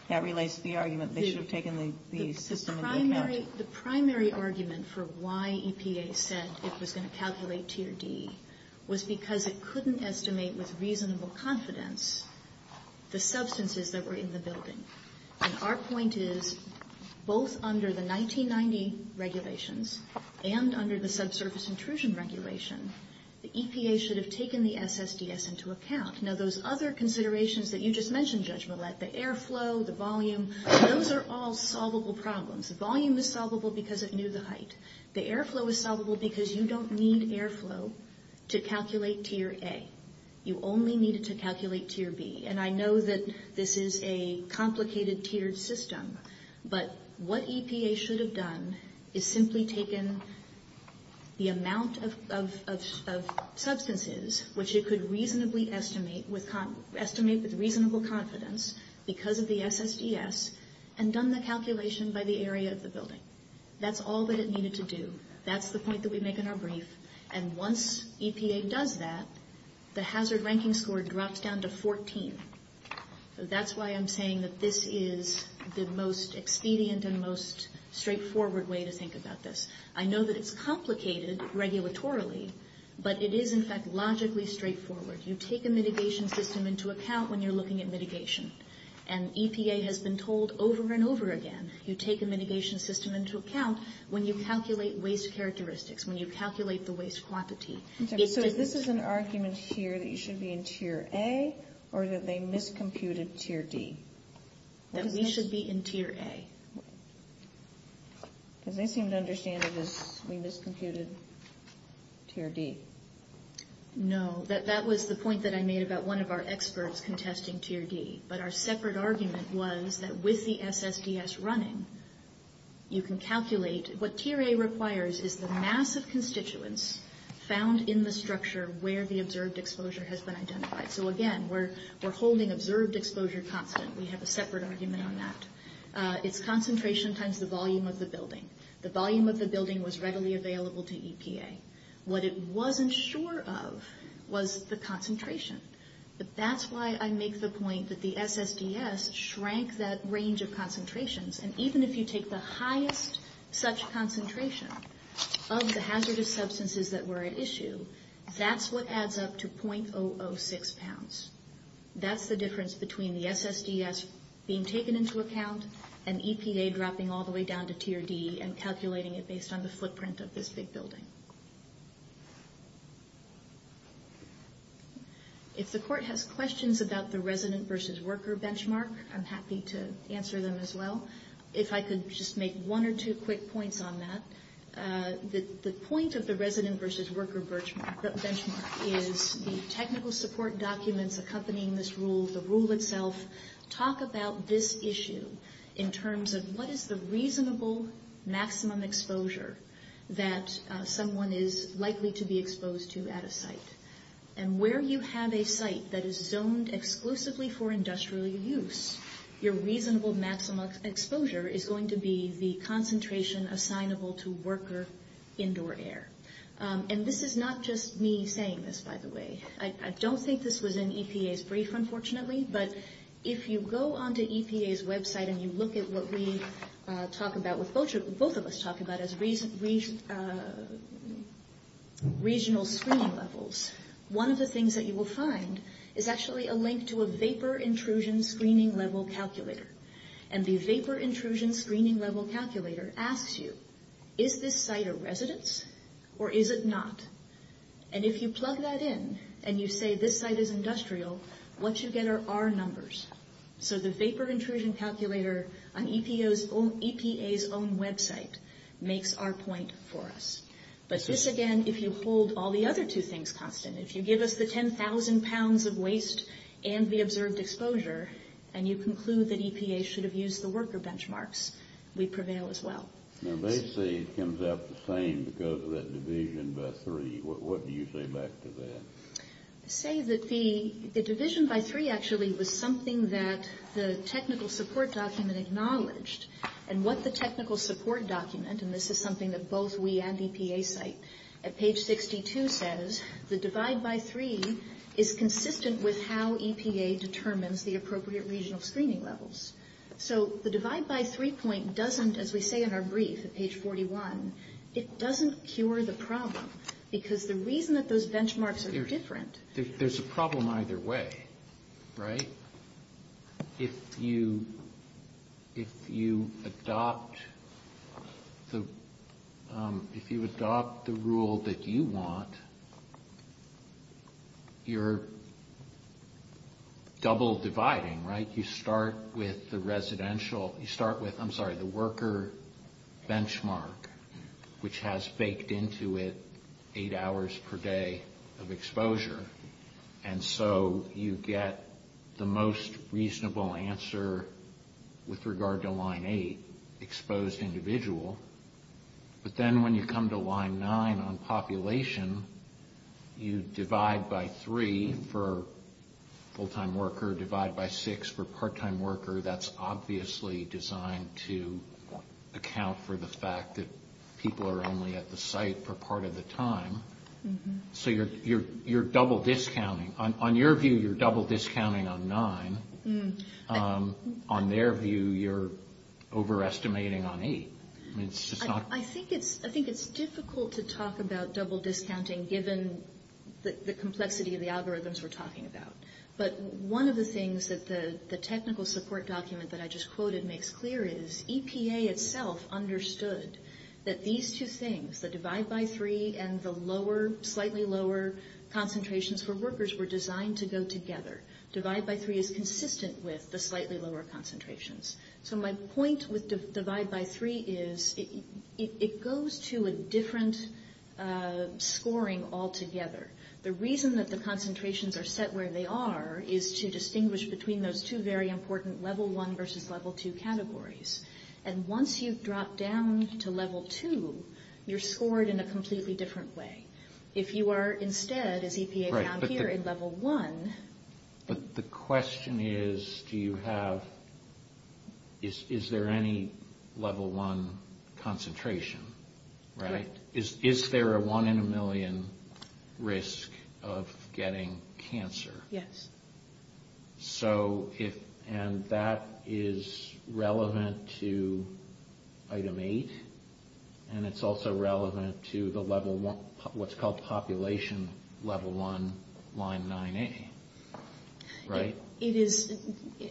that relates to the argument they should have taken the system into account. The primary argument for why EPA said it was going to calculate tier D was because it couldn't estimate with reasonable confidence the substances that were in the building. And our point is both under the 1990 regulations and under the subsurface intrusion regulation, the EPA should have taken the SSDS into account. Now, those other considerations that you just mentioned, Judge Millett, the airflow, the volume, those are all solvable problems. The volume is solvable because it knew the height. The airflow is solvable because you don't need airflow to calculate tier A. You only need it to calculate tier B. And I know that this is a complicated tiered system, but what EPA should have done is simply taken the amount of substances, which it could reasonably estimate with reasonable confidence because of the SSDS, and done the calculation by the area of the building. That's all that it needed to do. That's the point that we make in our brief. And once EPA does that, the hazard ranking score drops down to 14. So that's why I'm saying that this is the most expedient and most straightforward way to think about this. I know that it's complicated regulatorily, but it is, in fact, logically straightforward. You take a mitigation system into account when you're looking at mitigation. And EPA has been told over and over again, you take a mitigation system into account when you calculate waste characteristics, when you calculate the waste quantity. So this is an argument here that you should be in tier A or that they miscomputed tier B? That we should be in tier A. And they seem to understand that we miscomputed tier B. No, that was the point that I made about one of our experts contesting tier D. But our separate argument was that with the SSDS running, you can calculate. What tier A requires is the mass of constituents found in the structure where the observed exposure has been identified. So, again, we're holding observed exposure confident. We have a separate argument on that. It's concentration times the volume of the building. The volume of the building was readily available to EPA. What it wasn't sure of was the concentration. That's why I make the point that the SSDS shrank that range of concentrations. And even if you take the highest such concentration of the hazardous substances that were at issue, that's what adds up to .006 pounds. That's the difference between the SSDS being taken into account and EPA dropping all the way down to tier D and calculating it based on the footprint of this big building. If the court has questions about the resident versus worker benchmark, I'm happy to answer them as well. If I could just make one or two quick points on that. The point of the resident versus worker benchmark is the technical support documents accompanying this rule, the rule itself, talk about this issue in terms of what is the reasonable maximum exposure that someone is likely to be exposed to at a site. And where you have a site that is zoned exclusively for industrial use, your reasonable maximum exposure is going to be the concentration assignable to worker indoor air. And this is not just me saying this, by the way. I don't think this was in EPA's brief, unfortunately. But if you go onto EPA's website and you look at what we talk about, what both of us talk about as regional screening levels, one of the things that you will find is actually a link to a vapor intrusion screening level calculator. And the vapor intrusion screening level calculator asks you, is this site a residence or is it not? And if you plug that in and you say this site is industrial, what you get are our numbers. So the vapor intrusion calculator on EPA's own website makes our point for us. But this, again, if you hold all the other two things constant, if you give us the 10,000 pounds of waste and the observed exposure and you conclude that EPA should have used the worker benchmarks, we prevail as well. Now they say it comes out the same because of that division by three. What do you say back to that? I say that the division by three actually was something that the technical support document acknowledged. And what the technical support document, and this is something that both we and EPA cite, at page 62 says, the divide by three is consistent with how EPA determines the appropriate regional screening levels. So the divide by three point doesn't, as we say in our brief at page 41, it doesn't cure the problem. Because the reason that those benchmarks are different... There's a problem either way, right? If you adopt the rule that you want, you're double dividing, right? You start with the worker benchmark, which has baked into it eight hours per day of exposure. And so you get the most reasonable answer with regard to line eight, exposed individual. But then when you come to line nine on population, you divide by three for full-time worker, divide by six for part-time worker. That's obviously designed to account for the fact that people are only at the site for part of the time. So you're double discounting. On your view, you're double discounting on nine. On their view, you're overestimating on eight. I think it's difficult to talk about double discounting given the complexity of the algorithms we're talking about. But one of the things that the technical support document that I just quoted makes clear is, EPA itself understood that these two things, the divide by three and the slightly lower concentrations for workers were designed to go together. Divide by three is consistent with the slightly lower concentrations. So my point with divide by three is it goes to a different scoring altogether. The reason that the concentrations are set where they are is to distinguish between those two very important level one versus level two categories. And once you drop down to level two, you're scored in a completely different way. If you are instead, as EPA found here, in level one. But the question is, do you have, is there any level one concentration? Right. Is there a one in a million risk of getting cancer? Yes. So if, and that is relevant to item eight. And it's also relevant to the level one, what's called population level one, line 9A. Right? It is,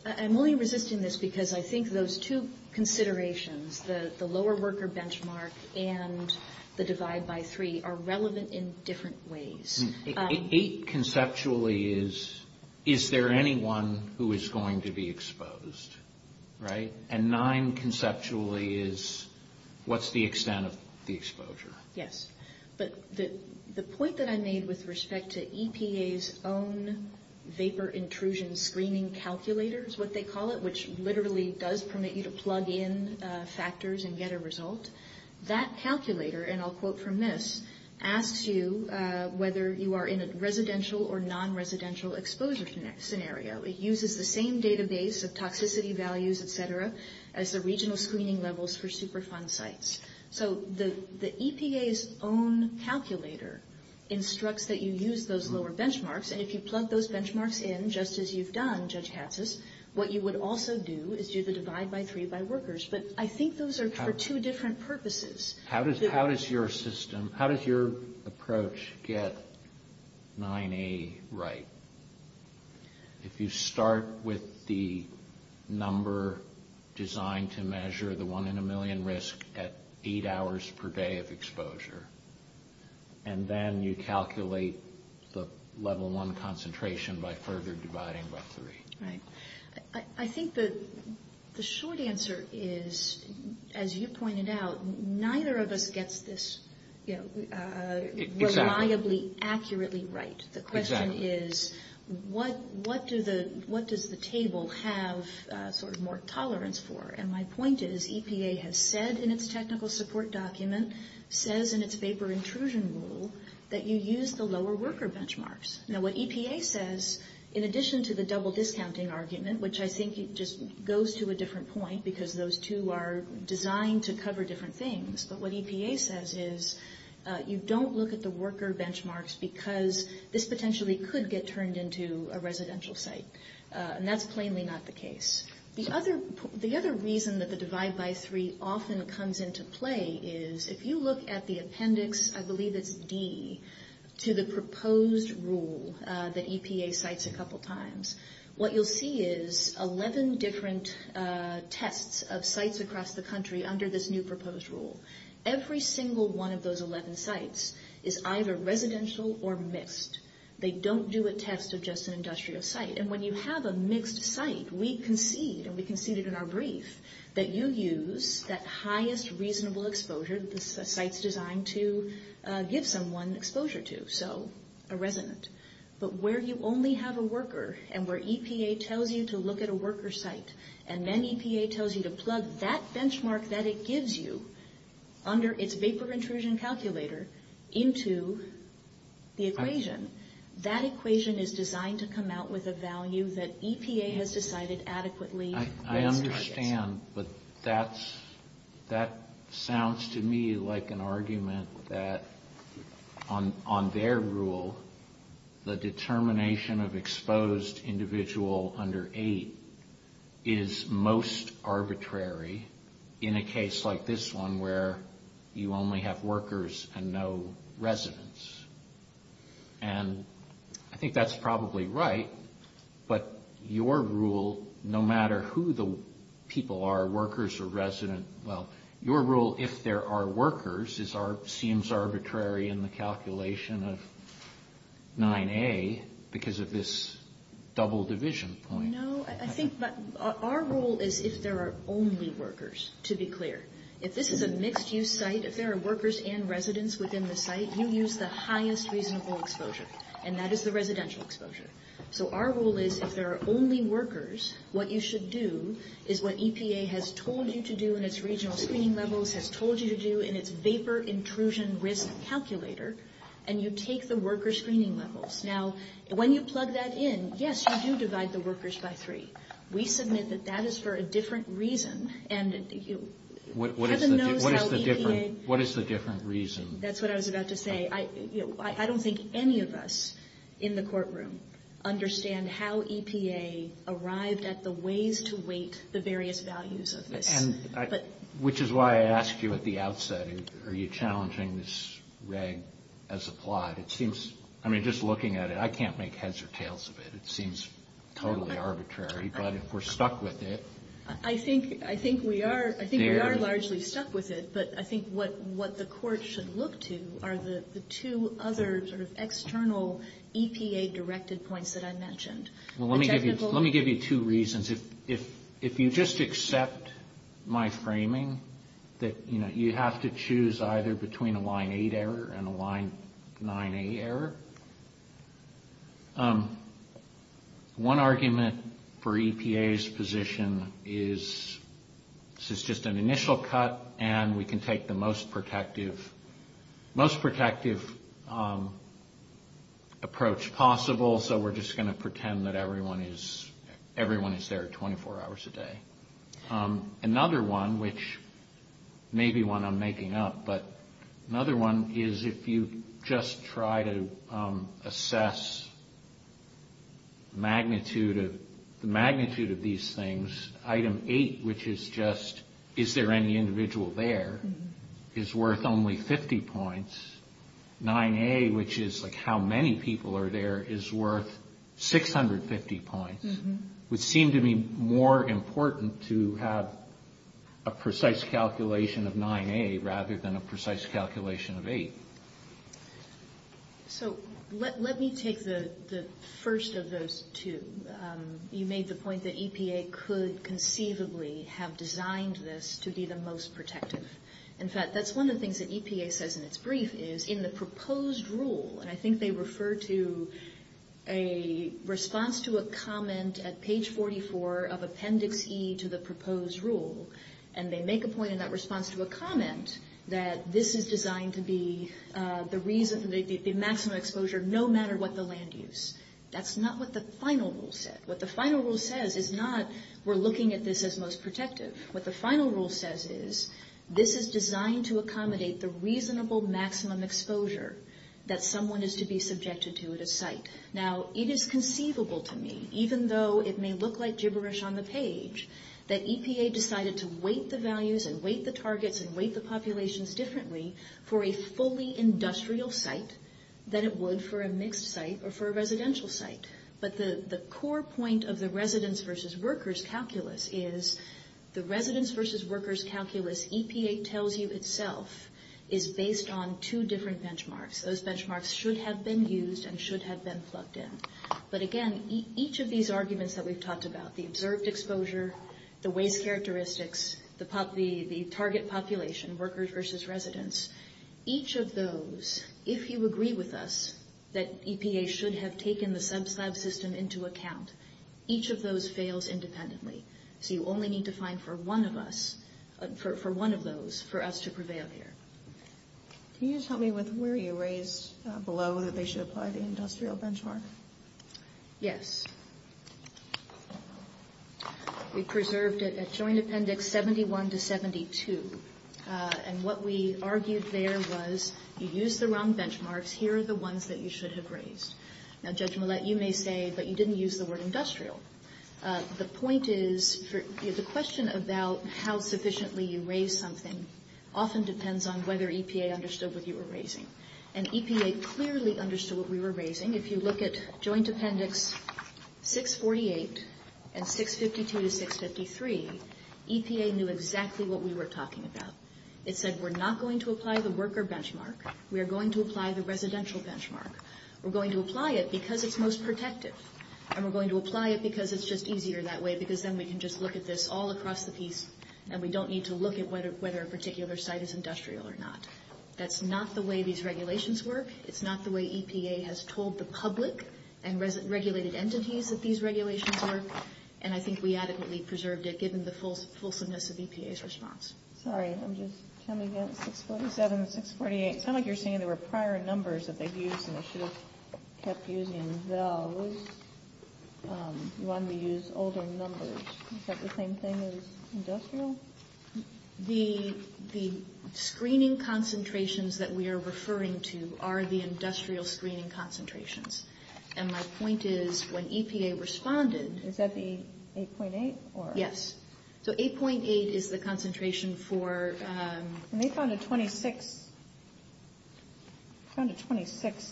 I'm only resisting this because I think those two considerations, the lower worker benchmark and the divide by three are relevant in different ways. Eight conceptually is, is there anyone who is going to be exposed? Right? And nine conceptually is, what's the extent of the exposure? Yes. But the point that I made with respect to EPA's own vapor intrusion screening calculator is what they call it, which literally does permit you to plug in factors and get a result. That calculator, and I'll quote from this, asks you whether you are in a residential or non-residential exposure scenario. It uses the same database of toxicity values, et cetera, as the regional screening levels for Superfund sites. So the EPA's own calculator instructs that you use those lower benchmarks. And if you plug those benchmarks in, just as you've done, Judge Hapsis, what you would also do is use a divide by three by workers. But I think those are for two different purposes. How does your system, how does your approach get 9A right? If you start with the number designed to measure the one in a million risk at eight hours per day of exposure, and then you calculate the level one concentration by further dividing by three. Right. I think the short answer is, as you pointed out, neither of us gets this reliably, accurately right. The question is what does the table have sort of more tolerance for? And my point is EPA has said in its technical support document, says in its vapor intrusion rule, that you use the lower worker benchmarks. Now what EPA says, in addition to the double discounting argument, which I think just goes to a different point because those two are designed to cover different things, but what EPA says is you don't look at the worker benchmarks because this potentially could get turned into a residential site. And that's plainly not the case. The other reason that the divide by three often comes into play is if you look at the appendix, I believe it's D, to the proposed rule that EPA cites a couple times, what you'll see is 11 different tests of sites across the country under this new proposed rule. Every single one of those 11 sites is either residential or mixed. They don't do a test of just an industrial site. And when you have a mixed site, we concede, and we conceded in our brief, that you use that highest reasonable exposure that the site's designed to give someone exposure to, so a resident. But where you only have a worker and where EPA tells you to look at a worker site and then EPA tells you to plug that benchmark that it gives you under its vapor intrusion calculator into the equation, that equation is designed to come out with a value that EPA has decided adequately. I understand, but that sounds to me like an argument that on their rule, the determination of exposed individual under eight is most arbitrary in a case like this one where you only have workers and no residents. And I think that's probably right, but your rule, no matter who the people are, workers or residents, well, your rule, if there are workers, seems arbitrary in the calculation of 9A because of this double division point. No, I think our rule is if there are only workers, to be clear. If this is a mixed-use site, if there are workers and residents within the site, you use the highest reasonable exposure, and that is the residential exposure. So our rule is if there are only workers, what you should do is what EPA has told you to do in its regional screening level, has told you to do in its vapor intrusion rhythm calculator, and you take the worker screening levels. Now, when you plug that in, yes, you do divide the workers by three. We submit that that is for a different reason. What is the different reason? That's what I was about to say. I don't think any of us in the courtroom understand how EPA arrived at the ways to weight the various values of this. Which is why I asked you at the outset, are you challenging this reg as applied? I mean, just looking at it, I can't make heads or tails of it. It seems totally arbitrary, but if we're stuck with it. I think we are largely stuck with it, but I think what the court should look to are the two other sort of external EPA-directed points that I mentioned. Well, let me give you two reasons. If you just accept my framing that you have to choose either between a Line 8 error and a Line 9A error, one argument for EPA's position is it's just an initial cut and we can take the most protective approach possible, so we're just going to pretend that everyone is there 24 hours a day. Another one, which may be one I'm making up, but another one is if you just try to assess the magnitude of these things, Item 8, which is just, is there any individual there, is worth only 50 points. Item 9A, which is like how many people are there, is worth 650 points, which seems to be more important to have a precise calculation of 9A rather than a precise calculation of 8. So, let me take the first of those two. You made the point that EPA could conceivably have designed this to be the most protective. In fact, that's one of the things that EPA says in its brief is in the proposed rule, and I think they refer to a response to a comment at page 44 of Appendix E to the proposed rule, and they make a point in that response to a comment that this is designed to be the maximum exposure no matter what the land use. That's not what the final rule said. What the final rule says is not we're looking at this as most protective. What the final rule says is this is designed to accommodate the reasonable maximum exposure that someone is to be subjected to at a site. Now, it is conceivable to me, even though it may look like gibberish on the page, that EPA decided to weight the values and weight the targets and weight the populations differently for a fully industrial site than it would for a mixed site or for a residential site. But the core point of the residents versus workers calculus is the residents versus workers calculus EPA tells you itself is based on two different benchmarks. Those benchmarks should have been used and should have been plugged in. But again, each of these arguments that we've talked about, the observed exposure, the weight characteristics, the target population, workers versus residents, each of those, if you agree with us, that EPA should have taken the subslab system into account, each of those fails independently. So you only need to find for one of us, for one of those, for us to prevail here. Can you just help me with where you raised below that they should apply the industrial benchmark? Yes. We preserved it as Joint Appendix 71 to 72. And what we argued there was you used the wrong benchmarks. Here are the ones that you should have raised. Now, Judge Millett, you may say, but you didn't use the word industrial. The point is, the question about how sufficiently you raised something often depends on whether EPA understood what you were raising. And EPA clearly understood what we were raising. If you look at Joint Appendix 648 and 652 to 653, EPA knew exactly what we were talking about. It said we're not going to apply the worker benchmark. We are going to apply the residential benchmark. We're going to apply it because it's most protective. And we're going to apply it because it's just easier that way because then we can just look at this all across the piece and we don't need to look at whether a particular site is industrial or not. That's not the way these regulations work. It's not the way EPA has told the public and regulated entities that these regulations work. And I think we adequately preserved it given the fullfulness of EPA's response. Sorry. I'm just trying to get 47, 648. It's kind of like you're saying there were prior numbers that they used and they should have kept using those. You wanted to use older numbers. Is that the same thing as industrial? The screening concentrations that we are referring to are the industrial screening concentrations. And my point is when EPA responded- Is that the 8.8? Yes. So 8.8 is the concentration for- And they found a 26th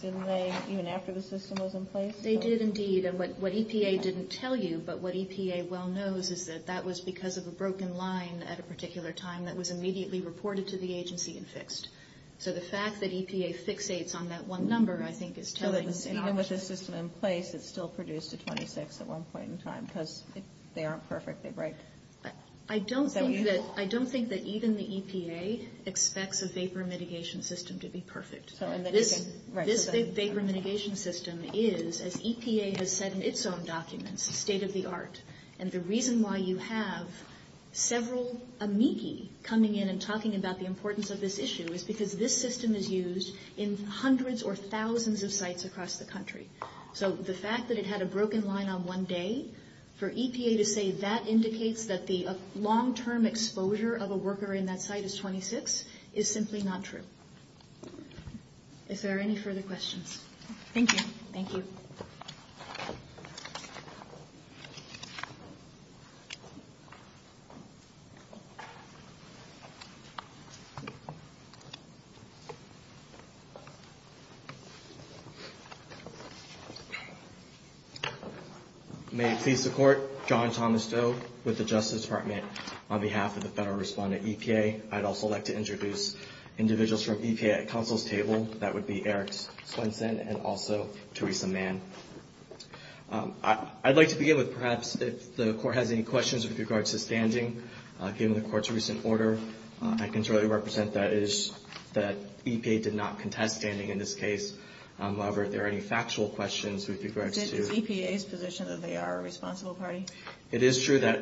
delay even after the system was in place? They did indeed. What EPA didn't tell you but what EPA well knows is that that was because of a broken line at a particular time that was immediately reported to the agency and fixed. So the fact that EPA's 6.8 is on that one number I think is telling- Even with the system in place, it still produced a 26 at one point in time because they aren't perfect. I don't think that even the EPA expects a vapor mitigation system to be perfect. This vapor mitigation system is, as EPA has said in its own documents, state of the art. And the reason why you have several amici coming in and talking about the importance of this issue is because this system is used in hundreds or thousands of sites across the country. So the fact that it had a broken line on one day, for EPA to say that indicates that the long-term exposure of a worker in that site is 26 is simply not true. If there are any further questions. Thank you. Thank you. May it please the court. John Thomas Doe with the Justice Department on behalf of the Federal Respondent EPA. I'd also like to introduce individuals from EPA at counsel's table. That would be Eric Swenson and also Theresa Mann. I'd like to begin with perhaps if the court has any questions with regards to standing. Given the court's recent order, I can certainly represent that EPA did not contest standing in this case. However, if there are any factual questions with regards to- Is EPA's position that they are a responsible party? It is true that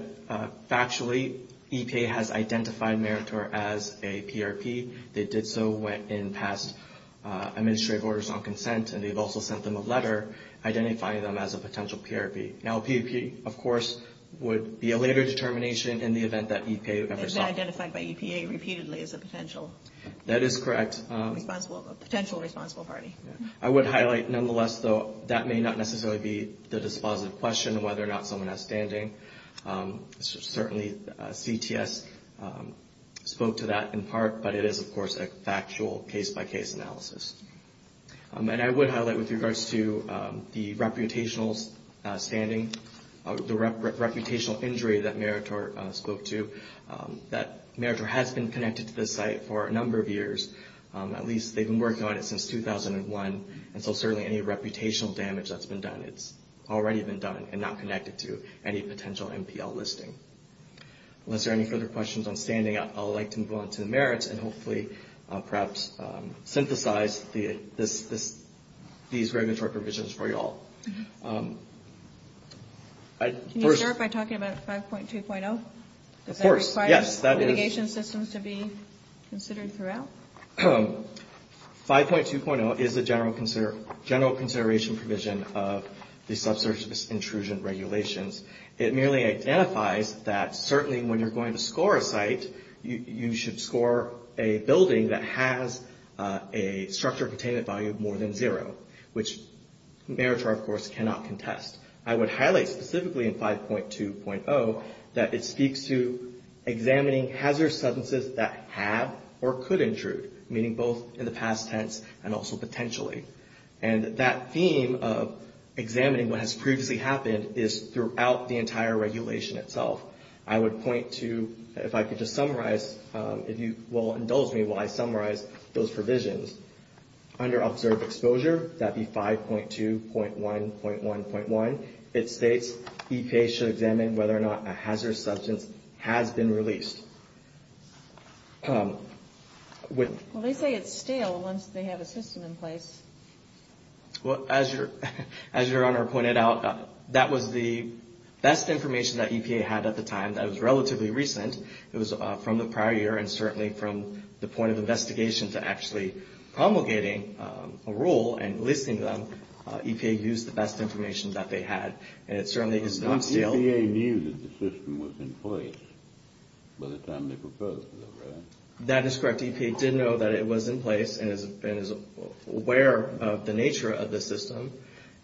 factually EPA has identified Meritor as a PRP. They did so in past administrative orders on consent. And they've also sent them a letter identifying them as a potential PRP. Now, PRP, of course, would be a later determination in the event that EPA- Is that identified by EPA repeatedly as a potential- That is correct. Responsible, a potential responsible party. I would highlight nonetheless, though, that may not necessarily be the dispositive question whether or not someone has standing. Certainly, CTS spoke to that in part, but it is, of course, a factual case-by-case analysis. And I would highlight with regards to the reputational standing, the reputational injury that Meritor spoke to, that Meritor has been connected to the site for a number of years. At least they've been working on it since 2001. And so certainly any reputational damage that's been done, it's already been done and not connected to any potential NPL listing. Unless there are any further questions on standing, I'd like to move on to the merits and hopefully perhaps synthesize these regulatory provisions for you all. Can you start by talking about 5.2.0? Of course, yes. Does that require litigation systems to be considered throughout? 5.2.0 is the general consideration provision of the subsurface intrusion regulations. It merely identifies that certainly when you're going to score a site, you should score a building that has a structure of attainment value more than zero, which Meritor, of course, cannot contest. I would highlight specifically in 5.2.0 that it speaks to examining hazardous substances that have or could intrude, meaning both in the past tense and also potentially. And that theme of examining what has previously happened is throughout the entire regulation itself. I would point to, if I could just summarize, if you will indulge me while I summarize those provisions. Under observed exposure, that would be 5.2.1.1.1, it states EPA should examine whether or not a hazardous substance has been released. Well, they say it's stale once they have a system in place. Well, as your Honor pointed out, that was the best information that EPA had at the time. That was relatively recent. It was from the prior year and certainly from the point of investigation to actually promulgating a rule and listing them, EPA used the best information that they had. And it certainly is not stale. EPA knew that the system was in place by the time they proposed it, right? That is correct. EPA did know that it was in place and is aware of the nature of the system.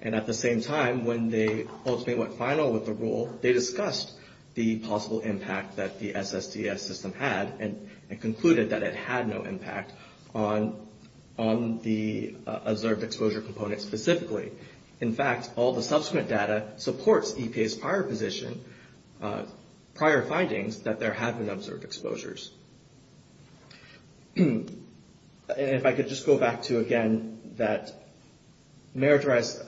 And at the same time, when they ultimately went final with the rule, they discussed the possible impact that the SSDS system had and concluded that it had no impact on the observed exposure component specifically. In fact, all the subsequent data supports EPA's prior position, prior findings, that there have been observed exposures. And if I could just go back to, again, that meritorious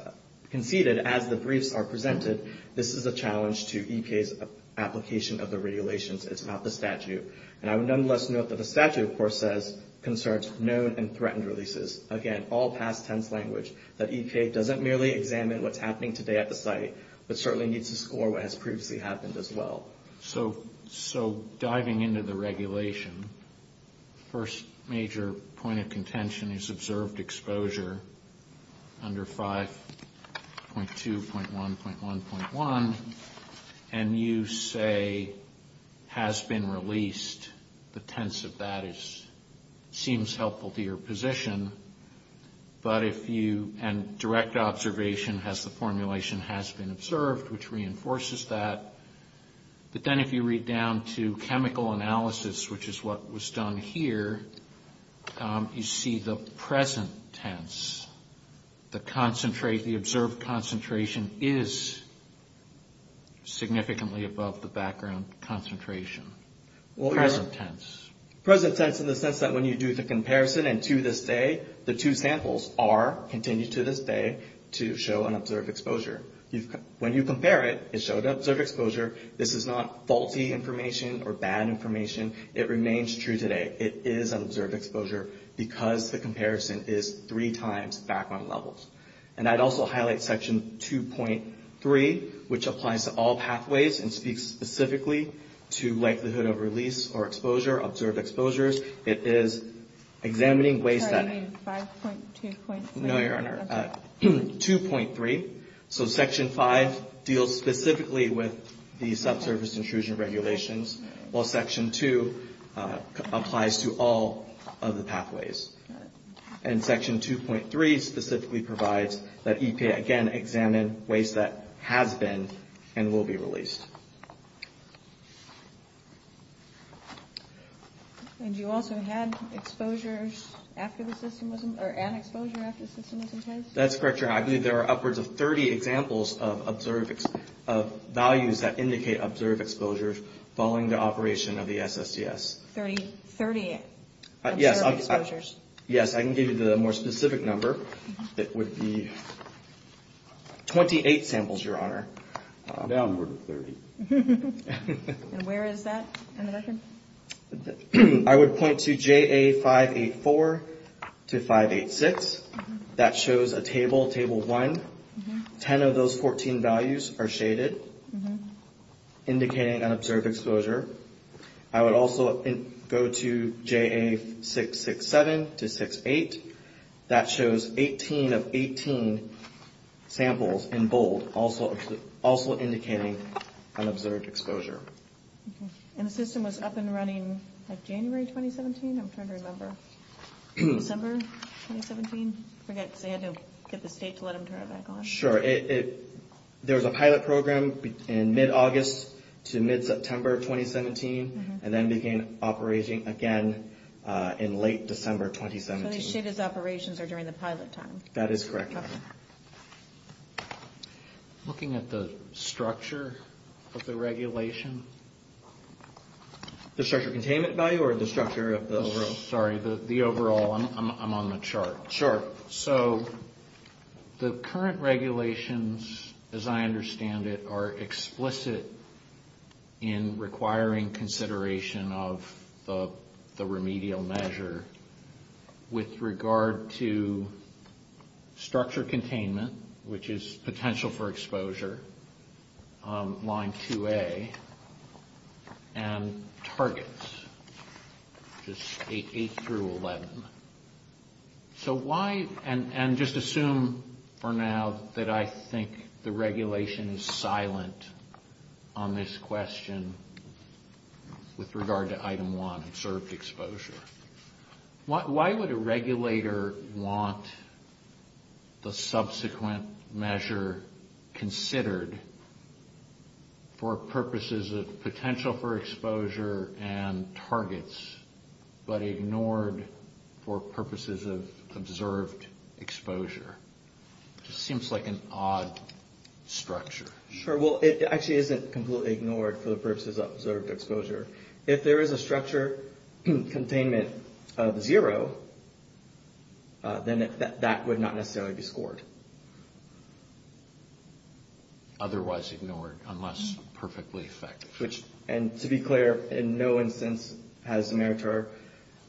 conceded as the briefs are presented, this is a challenge to EPA's application of the regulations. It's not the statute. And I would nonetheless note that the statute, of course, concerns known and threatened releases. Again, all past tense language that EPA doesn't merely examine what's happening today at the site but certainly needs to score what has previously happened as well. So diving into the regulation, first major point of contention is observed exposure under 5.2.1.1.1. And you say has been released. The tense of that seems helpful to your position. And direct observation has the formulation has been observed, which reinforces that. But then if you read down to chemical analysis, which is what was done here, you see the present tense. The observed concentration is significantly above the background concentration, present tense. Present tense in the sense that when you do the comparison and to this day, the two samples are, continue to this day, to show an observed exposure. When you compare it, it shows observed exposure. This is not faulty information or bad information. It remains true today. It is observed exposure because the comparison is three times background levels. And I'd also highlight Section 2.3, which applies to all pathways and speaks specifically to likelihood of release or exposure, observed exposures. It is examining ways that- So you mean 5.2.3? No, Your Honor. 2.3. So Section 5 deals specifically with the subsurface intrusion regulations, while Section 2 applies to all of the pathways. And Section 2.3 specifically provides that EPA, again, examine ways that has been and will be released. And you also had exposures after the system was- or an exposure after the system was in place? That's correct, Your Honor. I believe there are upwards of 30 examples of observed- of values that indicate observed exposures following the operation of the SSDS. 30? 30 observed exposures? Yes, I can give you the more specific number. It would be 28 samples, Your Honor. Downward of 30. And where is that in the definition? I would point to JA584 to 586. That shows a table, Table 1. Ten of those 14 values are shaded, indicating an observed exposure. I would also go to JA667 to 68. That shows 18 of 18 samples in bold, also indicating an observed exposure. And the system was up and running in January 2017? I'm trying to remember. December 2017? I forget. I had to get the date to let them turn it back on. Sure, it- there's a pilot program in mid-August to mid-September 2017, and then began operating again in late December 2017. So the shaded operations are during the pilot time? That is correct, Your Honor. Okay. Looking at the structure of the regulation? The structure of containment value or the structure of the- Sorry, the overall. I'm on the chart. Sure. So the current regulations, as I understand it, are explicit in requiring consideration of the remedial measure with regard to structure containment, which is potential for exposure, Line 2A, and targets, which is State 8 through 11. So why- and just assume for now that I think the regulation is silent on this question with regard to Item 1, observed exposure. Why would a regulator want the subsequent measure considered for purposes of potential for exposure and targets, but ignored for purposes of observed exposure? It just seems like an odd structure. Sure. Well, it actually isn't completely ignored for the purposes of observed exposure. If there is a structure containment of zero, then that would not necessarily be scored. Otherwise ignored, unless perfectly effective. And to be clear, in no instance has the meritor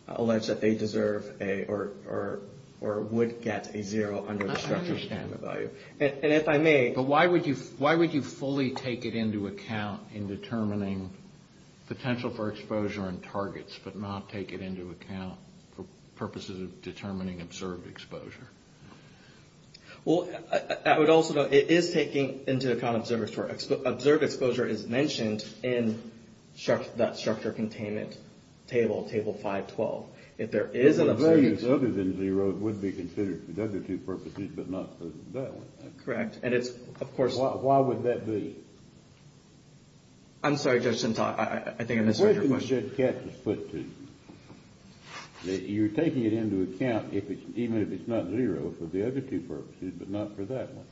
alleged that they deserve or would get a zero under the structure of the standard value. And if I may- But why would you fully take it into account in determining potential for exposure and targets, but not take it into account for purposes of determining observed exposure? Well, I would also note, it is taking into account observed exposure. Observed exposure is mentioned in that structure containment table, table 512. If there is a- If the value is other than zero, it would be considered for those two purposes, but not for that. Correct. And of course- Why would that be? I'm sorry, Judge Shintok. I think I misunderstood your question. You just get the split two. You're taking it into account, even if it's not zero, for the other two purposes, but not for that one.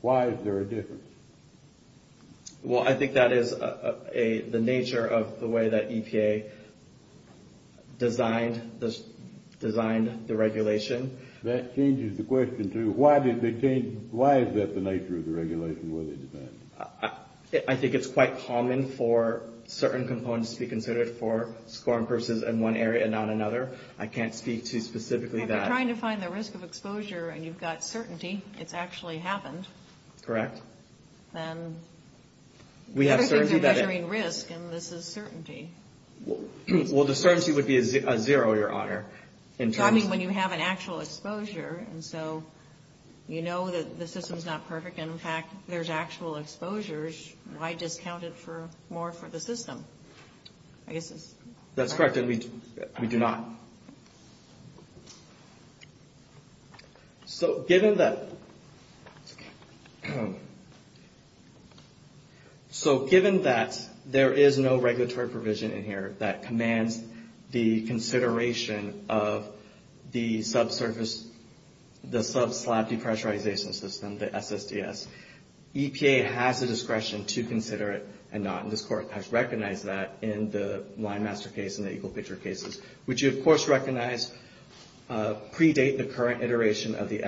Why is there a difference? Well, I think that is the nature of the way that EPA designed the regulation. That changes the question, too. Why is that the nature of the regulation? I think it's quite common for certain components to be considered for scoring purposes in one area and not another. I can't speak to specifically that. If you're trying to find the risk of exposure and you've got certainty, it's actually happened. Correct. And the other thing is measuring risk, and this is certainty. Well, the certainty would be a zero, Your Honor, in terms of- In fact, there's actual exposures. I just counted for more for the system. That's correct, and we do not. So, given that- EPA has the discretion to consider it and not. This Court has recognized that in the Winemaster case and the Equal Picture cases, which you, of course, recognize predate the current iteration of the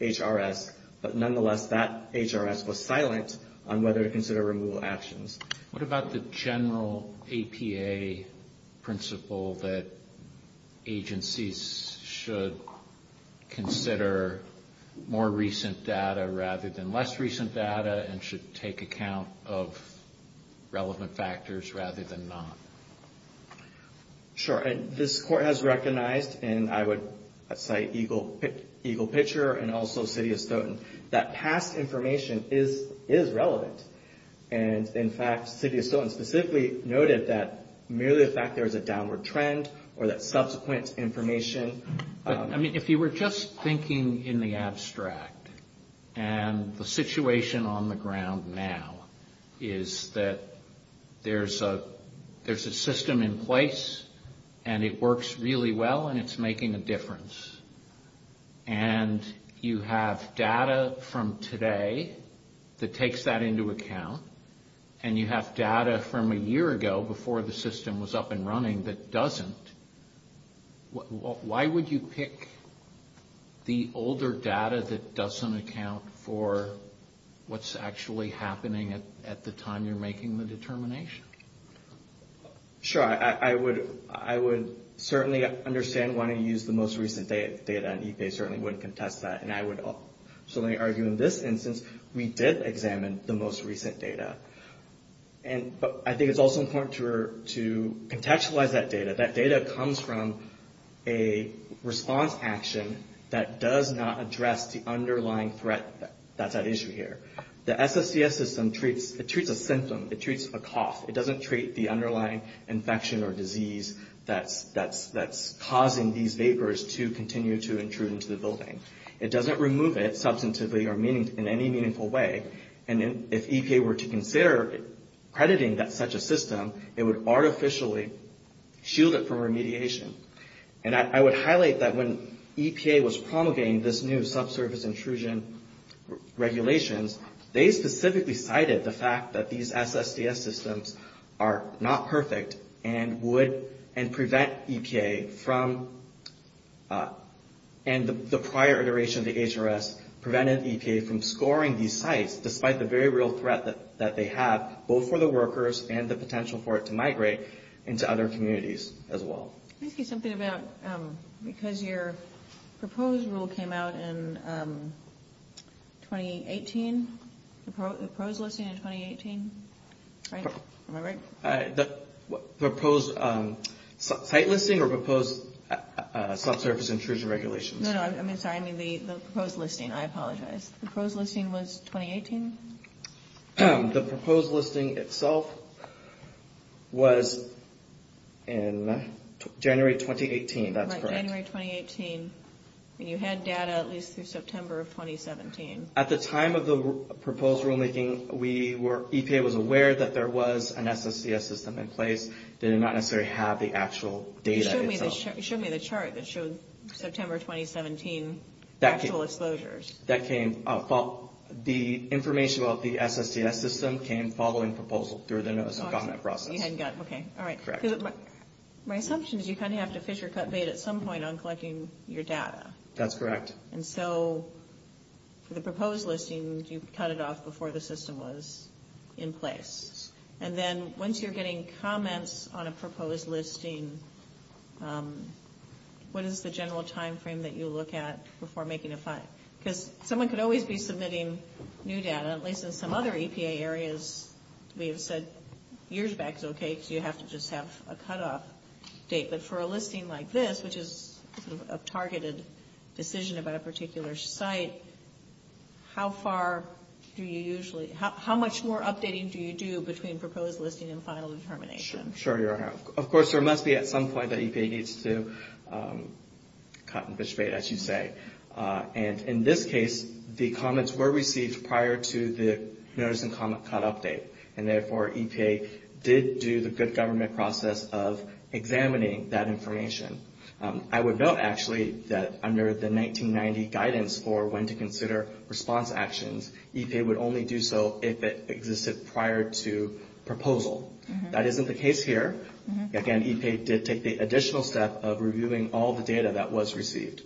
HRS, but nonetheless, that HRS was silent on whether to consider removal actions. What about the general APA principle that agencies should consider more recent data rather than less recent data and should take account of relevant factors rather than none? Sure, and this Court has recognized, and I would cite Equal Picture and also Sidious-Toten, that past information is relevant. And, in fact, Sidious-Toten specifically noted that merely the fact there's a downward trend or that subsequent information- I mean, if you were just thinking in the abstract, and the situation on the ground now is that there's a system in place and it works really well and it's making a difference, and you have data from today that takes that into account, and you have data from a year ago before the system was up and running that doesn't, why would you pick the older data that doesn't account for what's actually happening at the time you're making the determination? Sure, I would certainly understand wanting to use the most recent data, and they certainly wouldn't contest that, and I would also. So, let me argue in this instance, we did examine the most recent data. But I think it's also important to contextualize that data. That data comes from a response action that does not address the underlying threat that's at issue here. The SSCS system treats a symptom. It treats a cost. It doesn't treat the underlying infection or disease that's causing these vapors to continue to intrude into the building. It doesn't remove it substantively or in any meaningful way. And if EPA were to consider crediting such a system, it would artificially shield it from remediation. And I would highlight that when EPA was promulgating this new subsurface intrusion regulation, they specifically cited the fact that these SSCS systems are not perfect and prevent EPA from, and the prior iteration of the HRS prevented EPA from scoring these sites despite the very real threat that they have, both for the workers and the potential for it to migrate into other communities as well. Thank you. Something about, because your proposed rule came out in 2018, the proposed listing in 2018, right? Am I right? The proposed site listing or proposed subsurface intrusion regulation? No, no. I mean, sorry. I mean the proposed listing. I apologize. The proposed listing was 2018? The proposed listing itself was in January 2018. That's correct. Right. January 2018. And you had data at least through September of 2017. At the time of the proposed rulemaking, we were, EPA was aware that there was an SSCS system in place. They did not necessarily have the actual data. Show me the chart that shows September 2017 actual exposures. That came, the information about the SSCS system came following proposal through the NOAA subcommit process. You hadn't gotten, okay. All right. My assumption is you kind of have to fish your cut bait at some point on collecting your data. That's correct. And so for the proposed listings, you cut it off before the system was in place. And then once you're getting comments on a proposed listing, what is the general time frame that you look at before making a find? Because someone could always be submitting new data, at least in some other EPA areas. We have said years back is okay because you have to just have a cutoff date. But for a listing like this, which is a targeted decision about a particular site, how far do you usually, how much more updating do you do between proposed listing and final determination? Sure, you're right. Of course, there must be some slides that EPA needs to cut and fish bait, I should say. And in this case, the comments were received prior to the notice and comment cutoff date. And therefore, EPA did do the good government process of examining that information. I would note, actually, that under the 1990 guidance for when to consider response actions, EPA would only do so if it existed prior to proposal. That isn't the case here. Again, EPA did take the additional step of reviewing all the data that was received.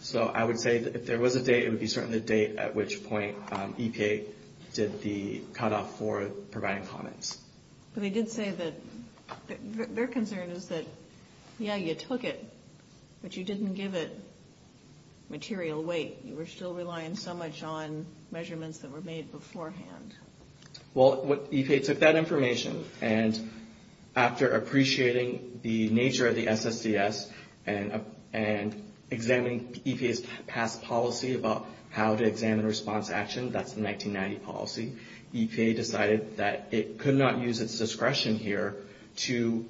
So I would say if there was a date, it would be certain a date at which point EPA did the cutoff for providing comments. But they did say that their concern is that, yeah, you took it, but you didn't give it material weight. You were still relying so much on measurements that were made beforehand. Well, EPA took that information, and after appreciating the nature of the SSDS and examining EPA's past policy about how to examine response actions, that's the 1990 policy, EPA decided that it could not use its discretion here to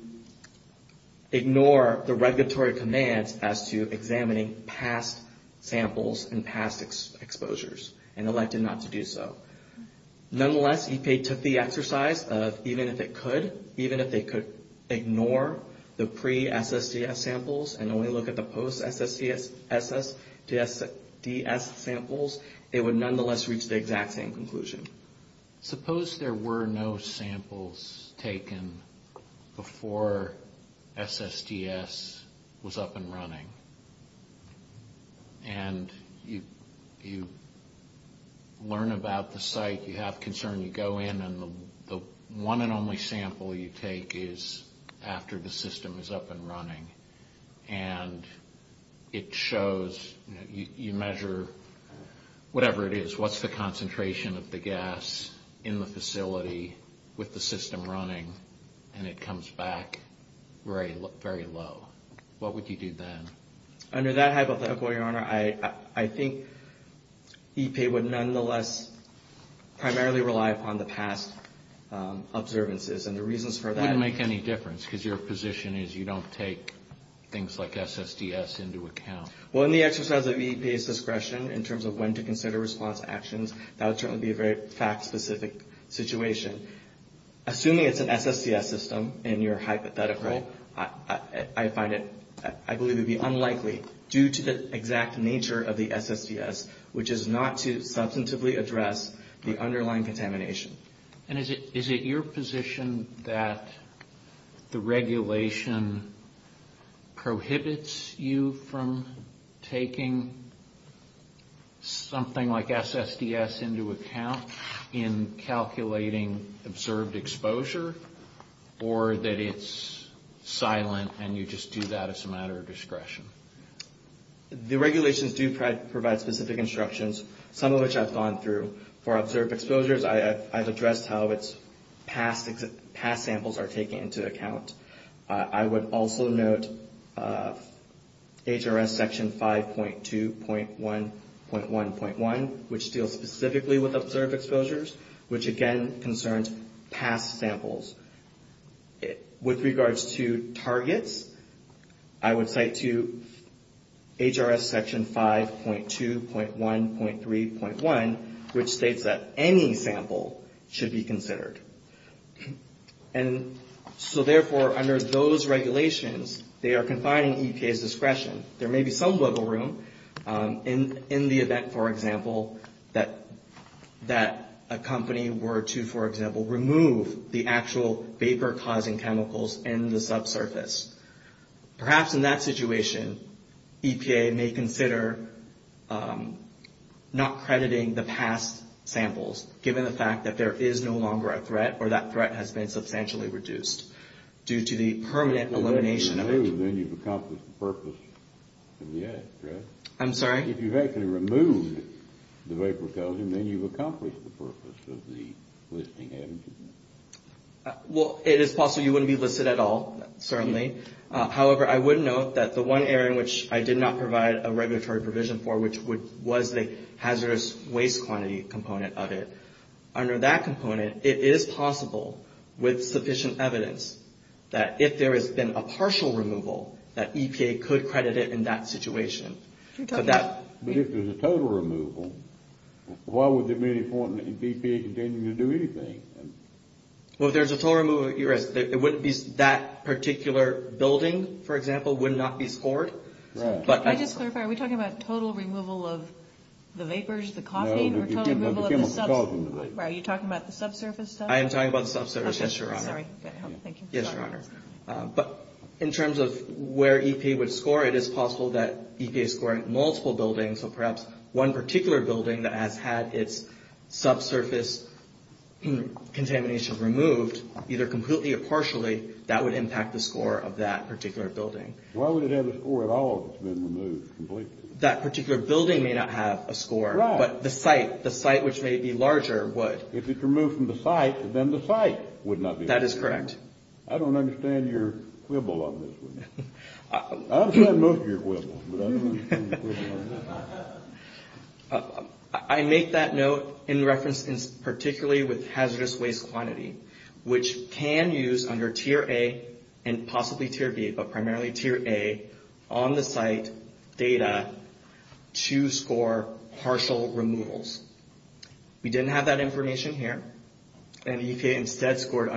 ignore the regulatory command as to examining past samples and past exposures and elected not to do so. Nonetheless, EPA took the exercise of even if it could, even if they could ignore the pre-SSDS samples and only look at the post-SSDS samples, it would nonetheless reach the exact same conclusion. Suppose there were no samples taken before SSDS was up and running. And you learn about the site. You have concern. You go in, and the one and only sample you take is after the system is up and running. And it shows, you measure whatever it is. What's the concentration of the gas in the facility with the system running? And it comes back very low. What would you do then? Under that hypothetical, Your Honor, I think EPA would nonetheless primarily rely upon the past observances. That wouldn't make any difference because your position is you don't take things like SSDS into account. Well, in the exercise of EPA's discretion in terms of when to consider response actions, that would certainly be a very fact-specific situation. Assuming it's an SSDS system and you're hypothetical, I find it, I believe it would be unlikely due to the exact nature of the SSDS, which is not to substantively address the underlying contamination. And is it your position that the regulation prohibits you from taking something like SSDS into account in calculating observed exposure, or that it's silent and you just do that as a matter of discretion? The regulations do provide specific instructions, some of which I've gone through. For observed exposures, I've addressed how its past samples are taken into account. I would also note HRS Section 5.2.1.1.1, which deals specifically with observed exposures, which again concerns past samples. With regards to targets, I would cite to HRS Section 5.2.1.3.1, which states that any sample should be considered. And so therefore, under those regulations, they are confining EPA's discretion. There may be some wiggle room in the event, for example, that a company were to, for example, remove the actual vapor-causing chemicals in the subsurface. Perhaps in that situation, EPA may consider not crediting the past samples, given the fact that there is no longer a threat, or that threat has been substantially reduced due to the permanent elimination of- If you actually remove them, then you've accomplished the purpose of the act, correct? I'm sorry? If you actually remove the vapor-causing, then you've accomplished the purpose of the listing, haven't you? Well, it is possible you wouldn't be listed at all, certainly. However, I would note that the one area in which I did not provide a regulatory provision for, which was the hazardous waste quantity component of it, under that component, it is possible, with sufficient evidence, that if there has been a partial removal, that EPA could credit it in that situation. But if there's a total removal, why would there be any point in EPA continuing to do anything? Well, if there's a total removal, you're right. That particular building, for example, would not be scored. Can I just clarify, are we talking about total removal of the vapors, the coffee? No, we're talking about total removal of the subsurface. Are you talking about the subsurface stuff? I am talking about the subsurface, yes, Your Honor. Thank you. Yes, Your Honor. But in terms of where EPA would score it, it is possible that EPA is scoring multiple buildings, so perhaps one particular building that has had its subsurface contamination removed, either completely or partially, that would impact the score of that particular building. Why would it have a score if all of it's been removed completely? That particular building may not have a score, but the site, the site which may be larger, would. If it's removed from the site, then the site would not be removed. That is correct. I don't understand your quibble on this one. I don't care about your quibble. I make that note in reference particularly with hazardous waste quantity, which can use under Tier A and possibly Tier B, but primarily Tier A, on the site data to score partial removals. We didn't have that information here, and the EPA instead scored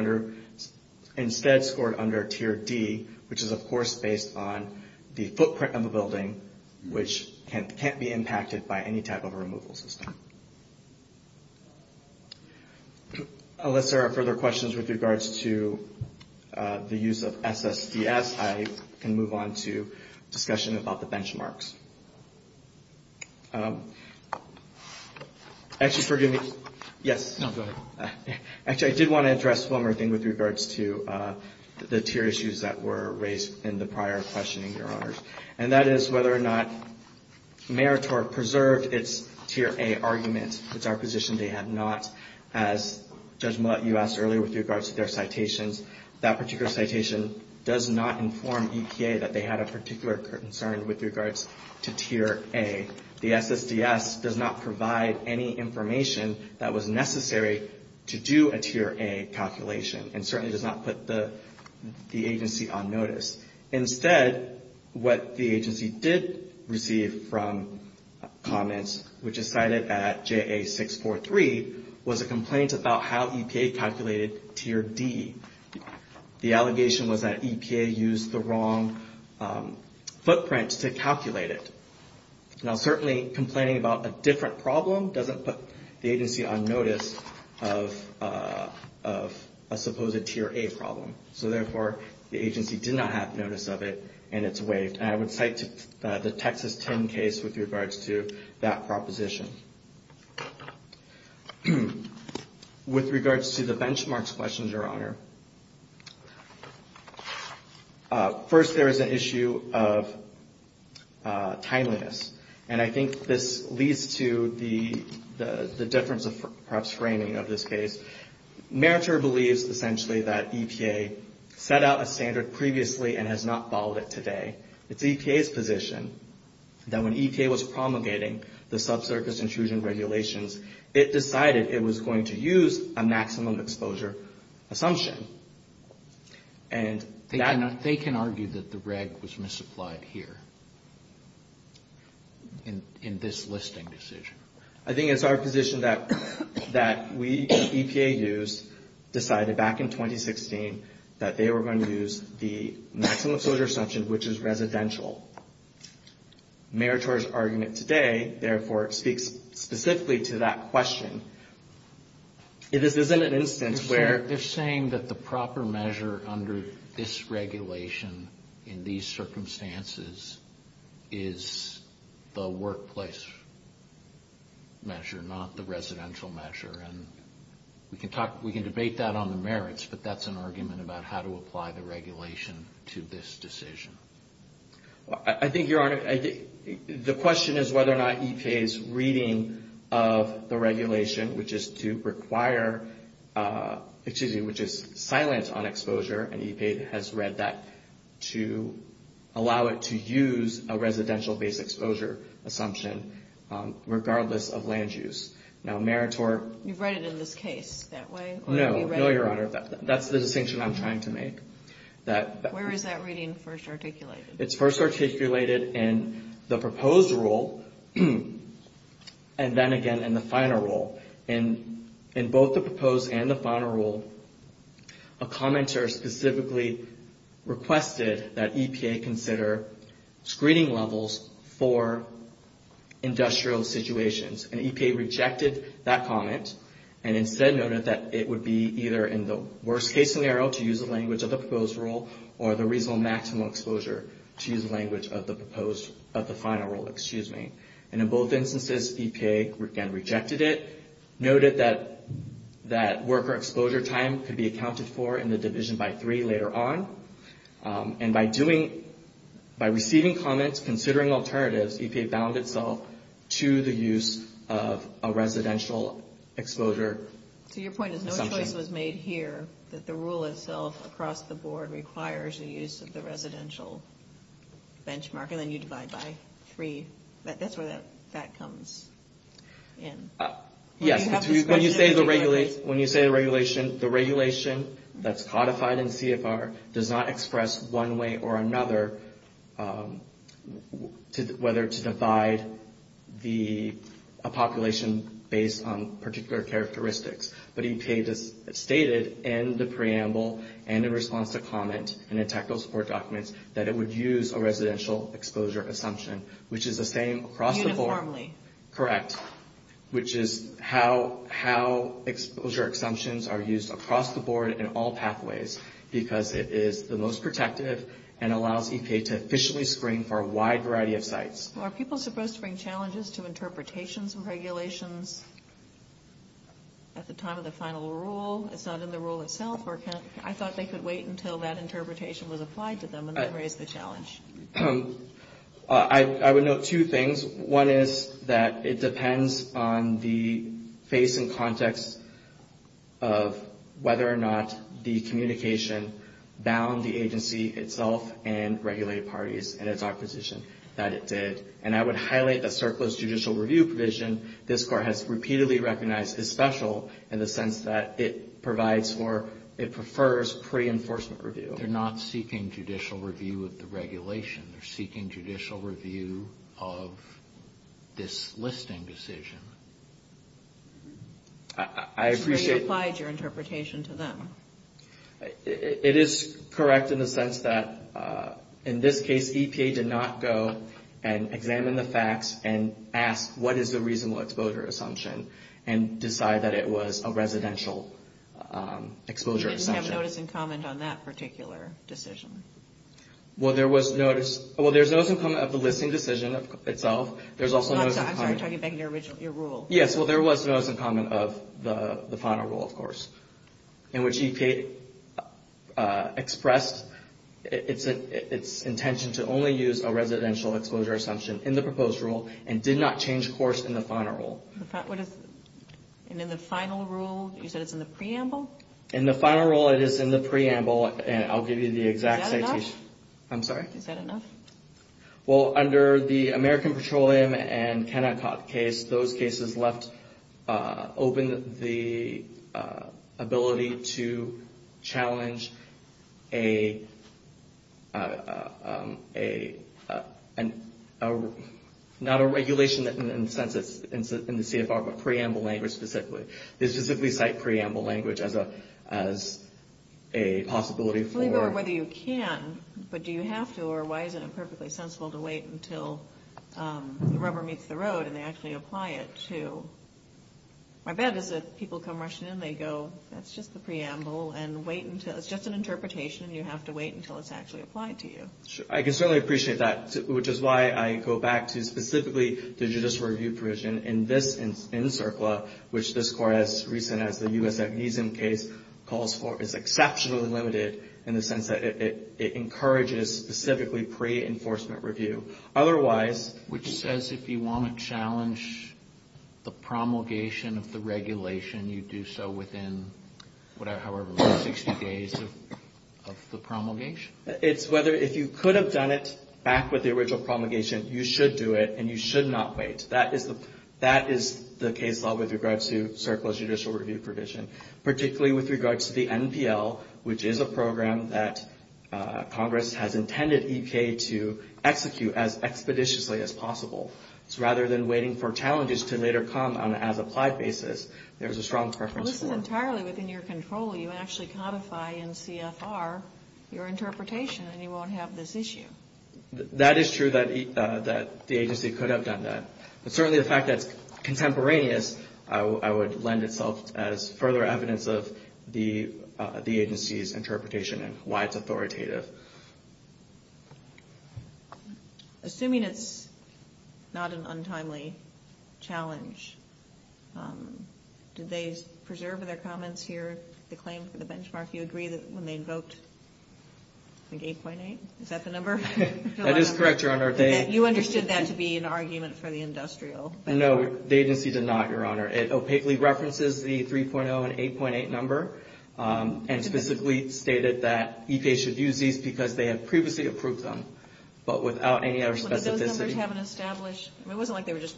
under Tier D, which is, of course, based on the footprint of the building, which can't be impacted by any type of removal system. Unless there are further questions with regards to the use of SSPS, I can move on to discussion about the benchmarks. Actually, forgive me. Yes. No, go ahead. Actually, I did want to address one more thing with regards to the tier issues that were raised in the prior questioning, Your Honors, and that is whether or not Meritor preserved its Tier A arguments. It's our position they have not. As Judge Moulet, you asked earlier with regards to their citations, that particular citation does not inform EPA that they have a particular concern with regards to Tier A. The SSPS does not provide any information that was necessary to do a Tier A calculation and certainly does not put the agency on notice. Instead, what the agency did receive from comments, which is cited at JA643, was a complaint about how EPA calculated Tier D. The allegation was that EPA used the wrong footprint to calculate it. Now, certainly, complaining about a different problem doesn't put the agency on notice of a supposed Tier A problem. So, therefore, the agency did not have notice of it and it's waived. I would cite the Texas 10 case with regards to that proposition. With regards to the benchmarks questions, Your Honor, first there is an issue of timeliness, and I think this leads to the difference of perhaps framing of this case. Meritor believes, essentially, that EPA set out a standard previously and has not followed it today. It's EPA's position that when EPA was promulgating the subsurface intrusion regulations, it decided it was going to use a maximum exposure assumption. And they can argue that the reg was misapplied here in this listing decision. I think it's our position that we, EPA use, decided back in 2016 that they were going to use the maximum exposure assumption, which is residential. Meritor's argument today, therefore, speaks specifically to that question. It is within an instance where... They're saying that the proper measure under this regulation in these circumstances is the workplace measure, not the residential measure. And we can debate that on the merits, but that's an argument about how to apply the regulation to this decision. I think, Your Honor, the question is whether or not EPA's reading of the regulation, which is to require, excuse me, which is silence on exposure, and EPA has read that, to allow it to use a residential-based exposure assumption regardless of land use. Now, Meritor... You read it in this case that way? No, Your Honor, that's the distinction I'm trying to make. Where is that reading first articulated? It's first articulated in the proposed rule, and then again in the final rule. In both the proposed and the final rule, a commenter specifically requested that EPA consider screening levels for industrial situations. And EPA rejected that comment and instead noted that it would be either in the worst-case scenario to use the language of the proposed rule or the reasonable maximal exposure to use the language of the final rule. And in both instances, EPA again rejected it, noted that worker exposure time could be accounted for in the division by three later on. And by receiving comments, considering alternatives, EPA bound itself to the use of a residential exposure assumption. So your point is no choice was made here, that the rule itself across the board requires the use of the residential benchmark, and then you divide by three. That's where that comes in. Yes, when you say the regulation, the regulation that's codified in CFR does not express one way or another whether to divide the population based on particular characteristics. But EPA stated in the preamble and in response to comments in the technical support documents that it would use a residential exposure assumption, which is the same across the board. Uniformly. Correct. Which is how exposure assumptions are used across the board in all pathways because it is the most protective and allows EPA to efficiently screen for a wide variety of sites. Are people supposed to bring challenges to interpretations and regulations at the time of the final rule? It's not in the rule itself? I thought they could wait until that interpretation was applied to them and then raise the challenge. I would note two things. One is that it depends on the face and context of whether or not the communication bound the agency itself and regulated parties and its opposition that it did. And I would highlight that CERCLA's judicial review provision, this court has repeatedly recognized is special in the sense that it provides or it prefers pre-enforcement review. They're not seeking judicial review of the regulation. They're seeking judicial review of this listing decision. I appreciate... So you applied your interpretation to them? It is correct in the sense that in this case EPA did not go and examine the facts and ask what is the reasonable exposure assumption and decide that it was a residential exposure assumption. So you didn't have notice and comment on that particular decision? Well, there was notice... Well, there's notice and comment of the listing decision itself. There's also notice and comment... I'm sorry, I'm trying to get back to your rule. Yes, well, there was notice and comment of the final rule, of course, in which EPA expressed its intention to only use a residential exposure assumption in the proposed rule and did not change course in the final rule. And in the final rule, you said it's in the preamble? In the final rule, it is in the preamble, and I'll give you the exact... Is that enough? I'm sorry? Is that enough? Well, under the American Petroleum and Kennecott case, those cases left open the ability to challenge a... not a regulation in the CFR, but preamble language specifically. They specifically cite preamble language as a possibility for... I'm wondering whether you can, but do you have to, or why isn't it perfectly sensible to wait until the rubber meets the road and they actually apply it to... My bet is that people come rushing in, they go, that's just the preamble, and wait until... it's just an interpretation, and you have to wait until it's actually applied to you. I can certainly appreciate that, which is why I go back to, specifically, the judicial review provision in CERCLA, which this court, as recent as the U.S. amnesia case, calls for, is exceptionally limited in the sense that it encourages, specifically, pre-enforcement review. Otherwise... Which says if you want to challenge the promulgation of the regulation, you do so within, however long, 60 days of the promulgation? It's whether, if you could have done it back with the original promulgation, you should do it, and you should not wait. That is the case law with regards to CERCLA's judicial review provision, particularly with regards to the NPL, which is a program that Congress has intended EPA to execute as expeditiously as possible. So rather than waiting for challenges to later come on an as-applied basis, there's a strong preference for... If it's entirely within your control, you actually codify in CFR your interpretation, and you won't have this issue. That is true that the agency could have done that. But certainly the fact that contemporaneous, I would lend itself as further evidence of the agency's interpretation of why it's authoritative. Assuming it's not an untimely challenge, did they preserve in their comments here the claim for the benchmark you agreed when they invoked, like, 8.8? Is that the number? That is correct, Your Honor. And you understood that to be an argument for the industrial benchmark? No, the agency did not, Your Honor. It opaquely references the 3.0 and 8.8 number, and specifically stated that EPA should use these because they have previously approved them, but without any other specificity. But those numbers haven't established... It wasn't like they were just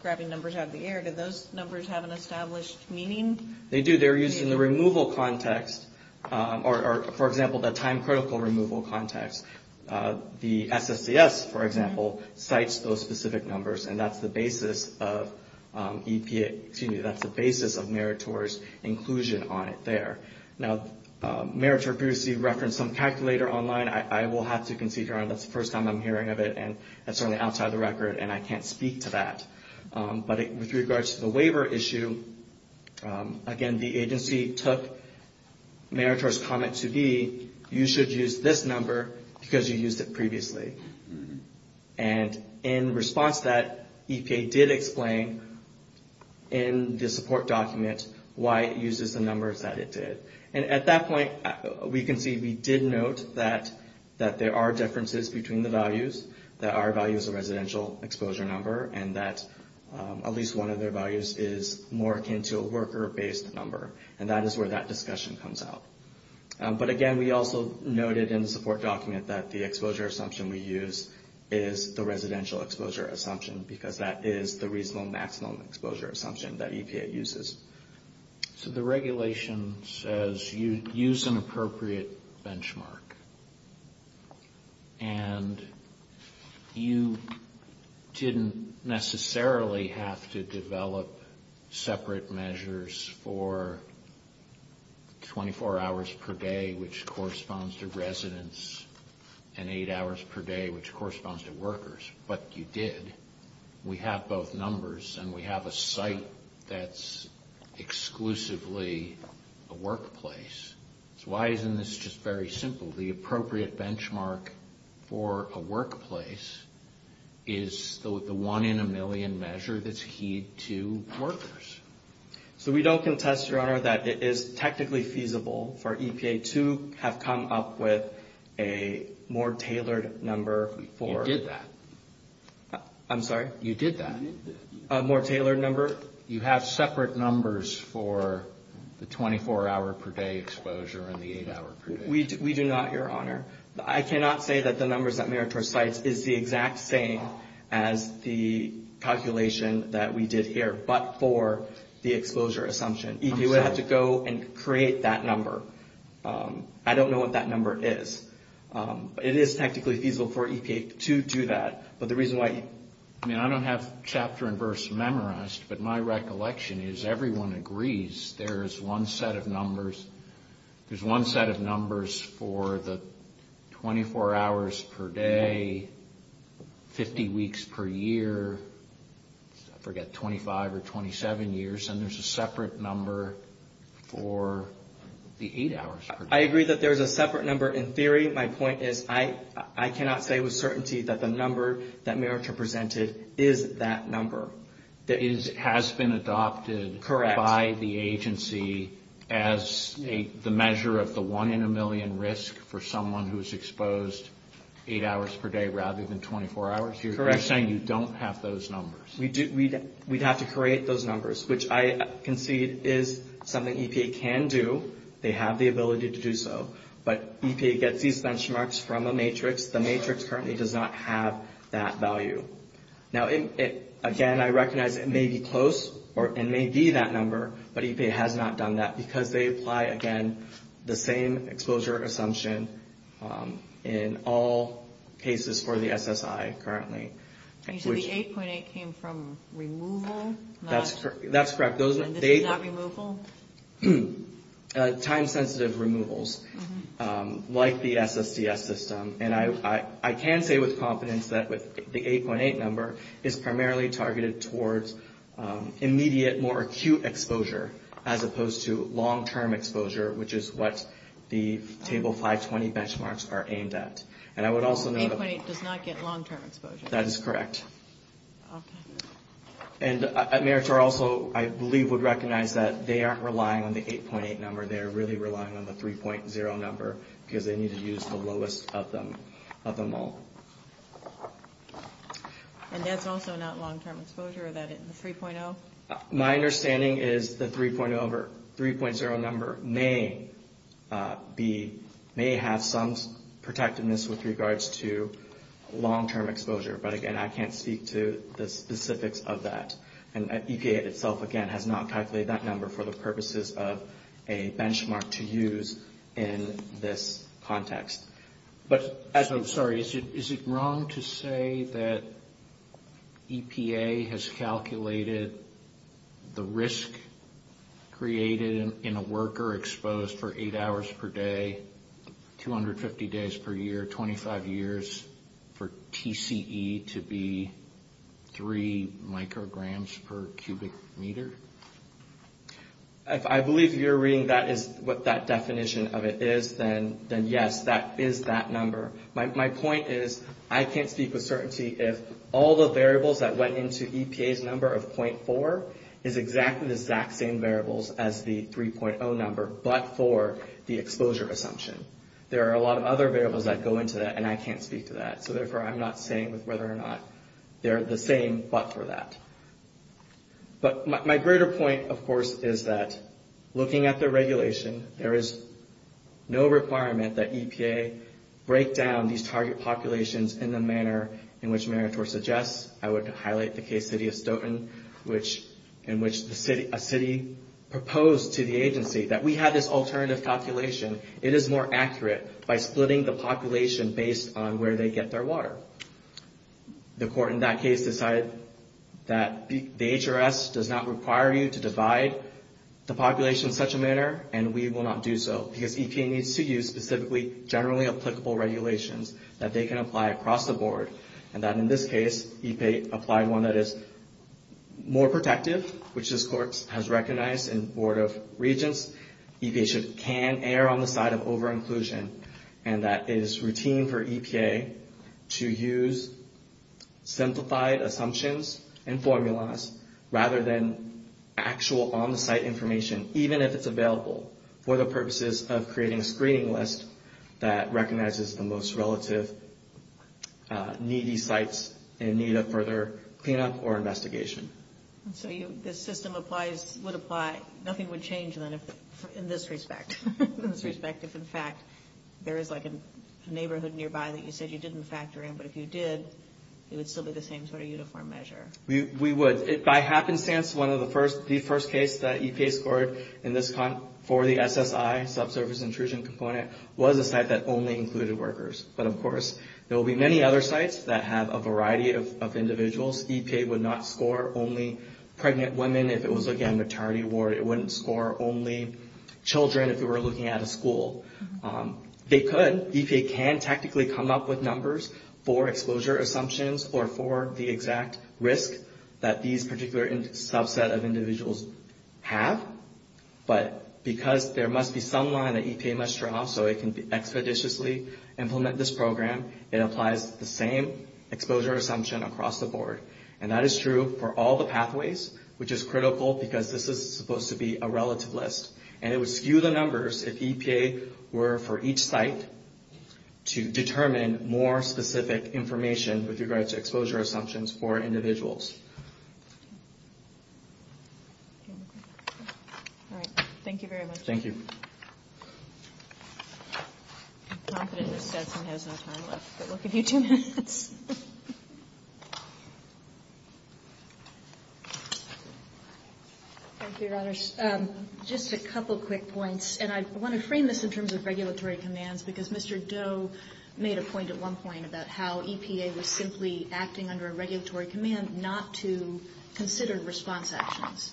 grabbing numbers out of the air. Did those numbers have an established meaning? They do. They were used in the removal context, or, for example, the time-critical removal context. The SSDS, for example, cites those specific numbers, and that's the basis of EPA... excuse me, that's the basis of Meritor's inclusion on it there. Now, Meritor previously referenced some calculator online. I will have to concede, Your Honor, that's the first time I'm hearing of it, and that's certainly outside of the record, and I can't speak to that. But with regards to the waiver issue, again, the agency took Meritor's comment to be, you should use this number because you used it previously. And in response to that, EPA did explain in the support document why it uses the numbers that it did. And at that point, we can see we did note that there are differences between the values, that our value is a residential exposure number, and that at least one of their values is more akin to a worker-based number. And that is where that discussion comes out. But, again, we also noted in the support document that the exposure assumption we use is the residential exposure assumption because that is the reasonable maximum exposure assumption that EPA uses. So the regulation says you use an appropriate benchmark. And you didn't necessarily have to develop separate measures for 24 hours per day, which corresponds to residents, and eight hours per day, which corresponds to workers, but you did. We have both numbers, and we have a site that's exclusively a workplace. Why isn't this just very simple? The appropriate benchmark for a workplace is the one-in-a-million measure that's keyed to workers. So we don't contest, Your Honor, that it is technically feasible for EPA to have come up with a more tailored number for... I'm sorry? You did that. A more tailored number? You have separate numbers for the 24-hour-per-day exposure and the eight-hour-per-day exposure. We do not, Your Honor. I cannot say that the numbers that Mayor Torres cites is the exact same as the calculation that we did here, but for the exposure assumption. You would have to go and create that number. I don't know what that number is. It is technically feasible for EPA to do that, but the reason why... I mean, I don't have chapter and verse memorized, but my recollection is everyone agrees there is one set of numbers. There's one set of numbers for the 24 hours per day, 50 weeks per year, I forget, 25 or 27 years, and there's a separate number for the eight hours per day. I agree that there's a separate number in theory. My point is I cannot say with certainty that the number that Mayor Torres presented is that number. It has been adopted by the agency as the measure of the one in a million risk for someone who is exposed eight hours per day rather than 24 hours a year. You're saying you don't have those numbers. We'd have to create those numbers, which I concede is something EPA can do. They have the ability to do so, but EPA gets these benchmarks from a matrix. The matrix currently does not have that value. Now, again, I recognize it may be close or it may be that number, but EPA has not done that because they apply, again, the same exposure assumption in all cases for the SSI currently. You said the 8.8 came from removal? That's correct. And this is not removal? Time-sensitive removals like the SSDS system. And I can say with confidence that the 8.8 number is primarily targeted towards immediate, more acute exposure as opposed to long-term exposure, which is what the Table 520 benchmarks are aimed at. So 8.8 does not get long-term exposure. That is correct. And Mayor Torr also, I believe, would recognize that they aren't relying on the 8.8 number. They're really relying on the 3.0 number because they need to use the lowest of them all. And that's also not long-term exposure? Is that a 3.0? My understanding is the 3.0 number may have some protectiveness with regards to long-term exposure, but, again, I can't speak to the specifics of that. And EPA itself, again, has not calculated that number for the purposes of a benchmark to use in this context. Sorry, is it wrong to say that EPA has calculated the risk created in a worker exposed for 8 hours per day, 250 days per year, 25 years for TCE to be 3 micrograms per cubic meter? I believe if you're reading what that definition of it is, then yes, that is that number. My point is I can't speak with certainty if all the variables that went into EPA's number of .4 is exactly the exact same variables as the 3.0 number, but for the exposure assumption. There are a lot of other variables that go into that, and I can't speak to that. So, therefore, I'm not saying whether or not they're the same, but for that. But my greater point, of course, is that looking at the regulation, there is no requirement that EPA break down these target populations in the manner in which Meritor suggests. I would highlight the case, City of Stoughton, in which a city proposed to the agency that we have this alternative population. It is more accurate by splitting the population based on where they get their water. The court in that case decided that the HRS does not require you to divide the population in such a manner, and we will not do so because EPA needs to use specifically generally applicable regulations that they can apply across the board, and that in this case, EPA applied one that is more protective, which this court has recognized in Board of Regents. EPA can err on the side of over-inclusion, and that is routine for EPA to use simplified assumptions and formulas rather than actual on-site information, even if it's available, for the purposes of creating a screening list that recognizes the most relative needy sites in need of further cleanup or investigation. So the system applies, would apply, nothing would change then in this respect, in this respect if in fact there is like a neighborhood nearby that you said you didn't factor in, but if you did, it would still be the same sort of uniform measure. We would. If by happenstance one of the first, the first case that EPA scored for the SSI, subsurface intrusion component, was a site that only included workers, but of course there will be many other sites that have a variety of individuals. EPA would not score only pregnant women if it was looking at a maternity ward. It wouldn't score only children if it were looking at a school. They could. EPA can technically come up with numbers for exposure assumptions or for the exact risk that these particular subset of individuals have, but because there must be some line that EPA must draw so it can expeditiously implement this program, it applies the same exposure assumption across the board. And that is true for all the pathways, which is critical because this is supposed to be a relative list. And it would skew the numbers if EPA were, for each site, to determine more specific information with regards to exposure assumptions for individuals. All right. Thank you very much. Thank you. Thank you, Rajesh. Just a couple quick points, and I want to frame this in terms of regulatory commands because Mr. Doe made a point at one point about how EPA was simply acting under a regulatory command not to consider response actions.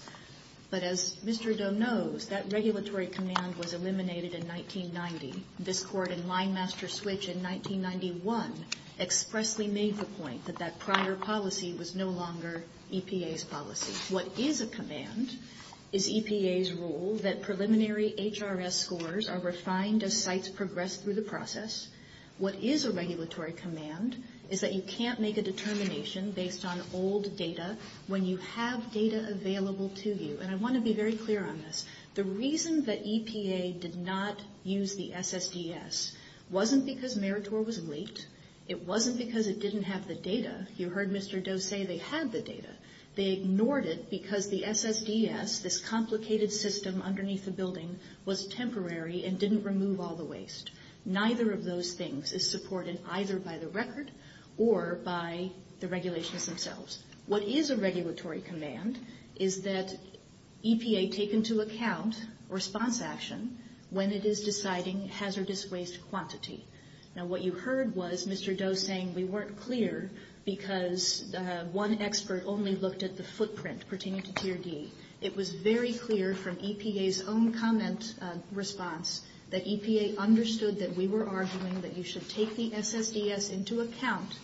But as Mr. Doe knows, that regulatory command was eliminated in 1990. This court in Linemaster Switch in 1991 expressly made the point that that prior policy was no longer EPA's policy. What is a command is EPA's rule that preliminary HRS scores are refined as sites progress through the process. What is a regulatory command is that you can't make a determination based on old data when you have data available to you. And I want to be very clear on this. The reason that EPA did not use the SSDS wasn't because Meritor was leaked. It wasn't because it didn't have the data. They ignored it because the SSDS, this complicated system underneath the building, was temporary and didn't remove all the waste. Neither of those things is supported either by the record or by the regulations themselves. What is a regulatory command is that EPA take into account response action when it is deciding hazardous waste quantity. Now, what you heard was Mr. Doe saying we weren't clear because one expert only looked at the footprint pertaining to tier D. It was very clear from EPA's own comment response that EPA understood that we were arguing that you should take the SSDS into account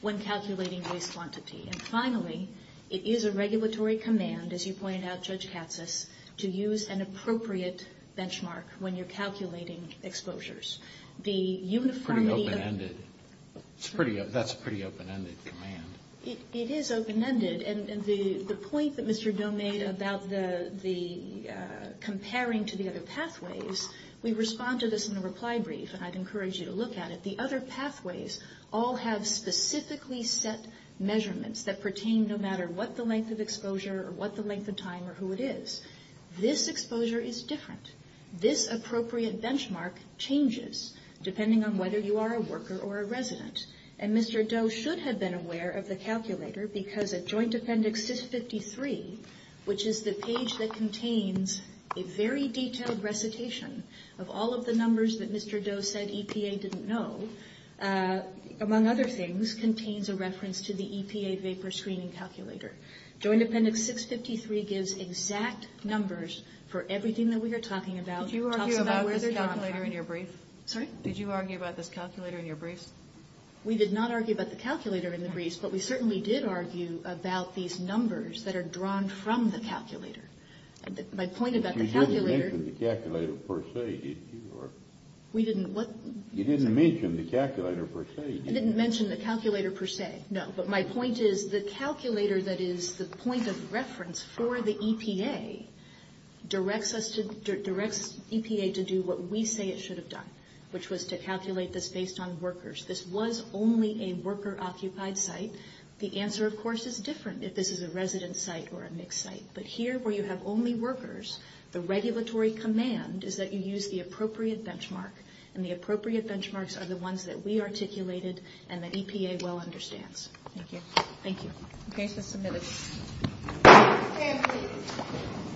when calculating waste quantity. And finally, it is a regulatory command, as you pointed out, Judge Katsas, to use an appropriate benchmark when you're calculating exposures. That's a pretty open-ended command. It is open-ended. And the point that Mr. Doe made about comparing to the other pathways, we respond to this in the reply brief, and I'd encourage you to look at it. The other pathways all have specifically set measurements that pertain no matter what the length of exposure or what the length of time or who it is. This exposure is different. This appropriate benchmark changes depending on whether you are a worker or a resident. And Mr. Doe should have been aware of the calculator because a joint appendix 653, which is the page that contains a very detailed recitation of all of the numbers that Mr. Doe said EPA didn't know, among other things, contains a reference to the EPA vapor screening calculator. Joint appendix 653 gives exact numbers for everything that we are talking about. Did you argue about the calculator in your brief? We did not argue about the calculator in the brief, but we certainly did argue about these numbers that are drawn from the calculator. My point about the calculator... You didn't mention the calculator per se, did you? We didn't what? You didn't mention the calculator per se. I didn't mention the calculator per se, no. But my point is the calculator that is the point of reference for the EPA directs EPA to do what we say it should have done, which was to calculate this based on workers. This was only a worker-occupied site. The answer, of course, is different if this is a resident site or a mixed site. But here, where you have only workers, the regulatory command is that you use the appropriate benchmark, and the appropriate benchmarks are the ones that we articulated and that EPA well understands. Thank you.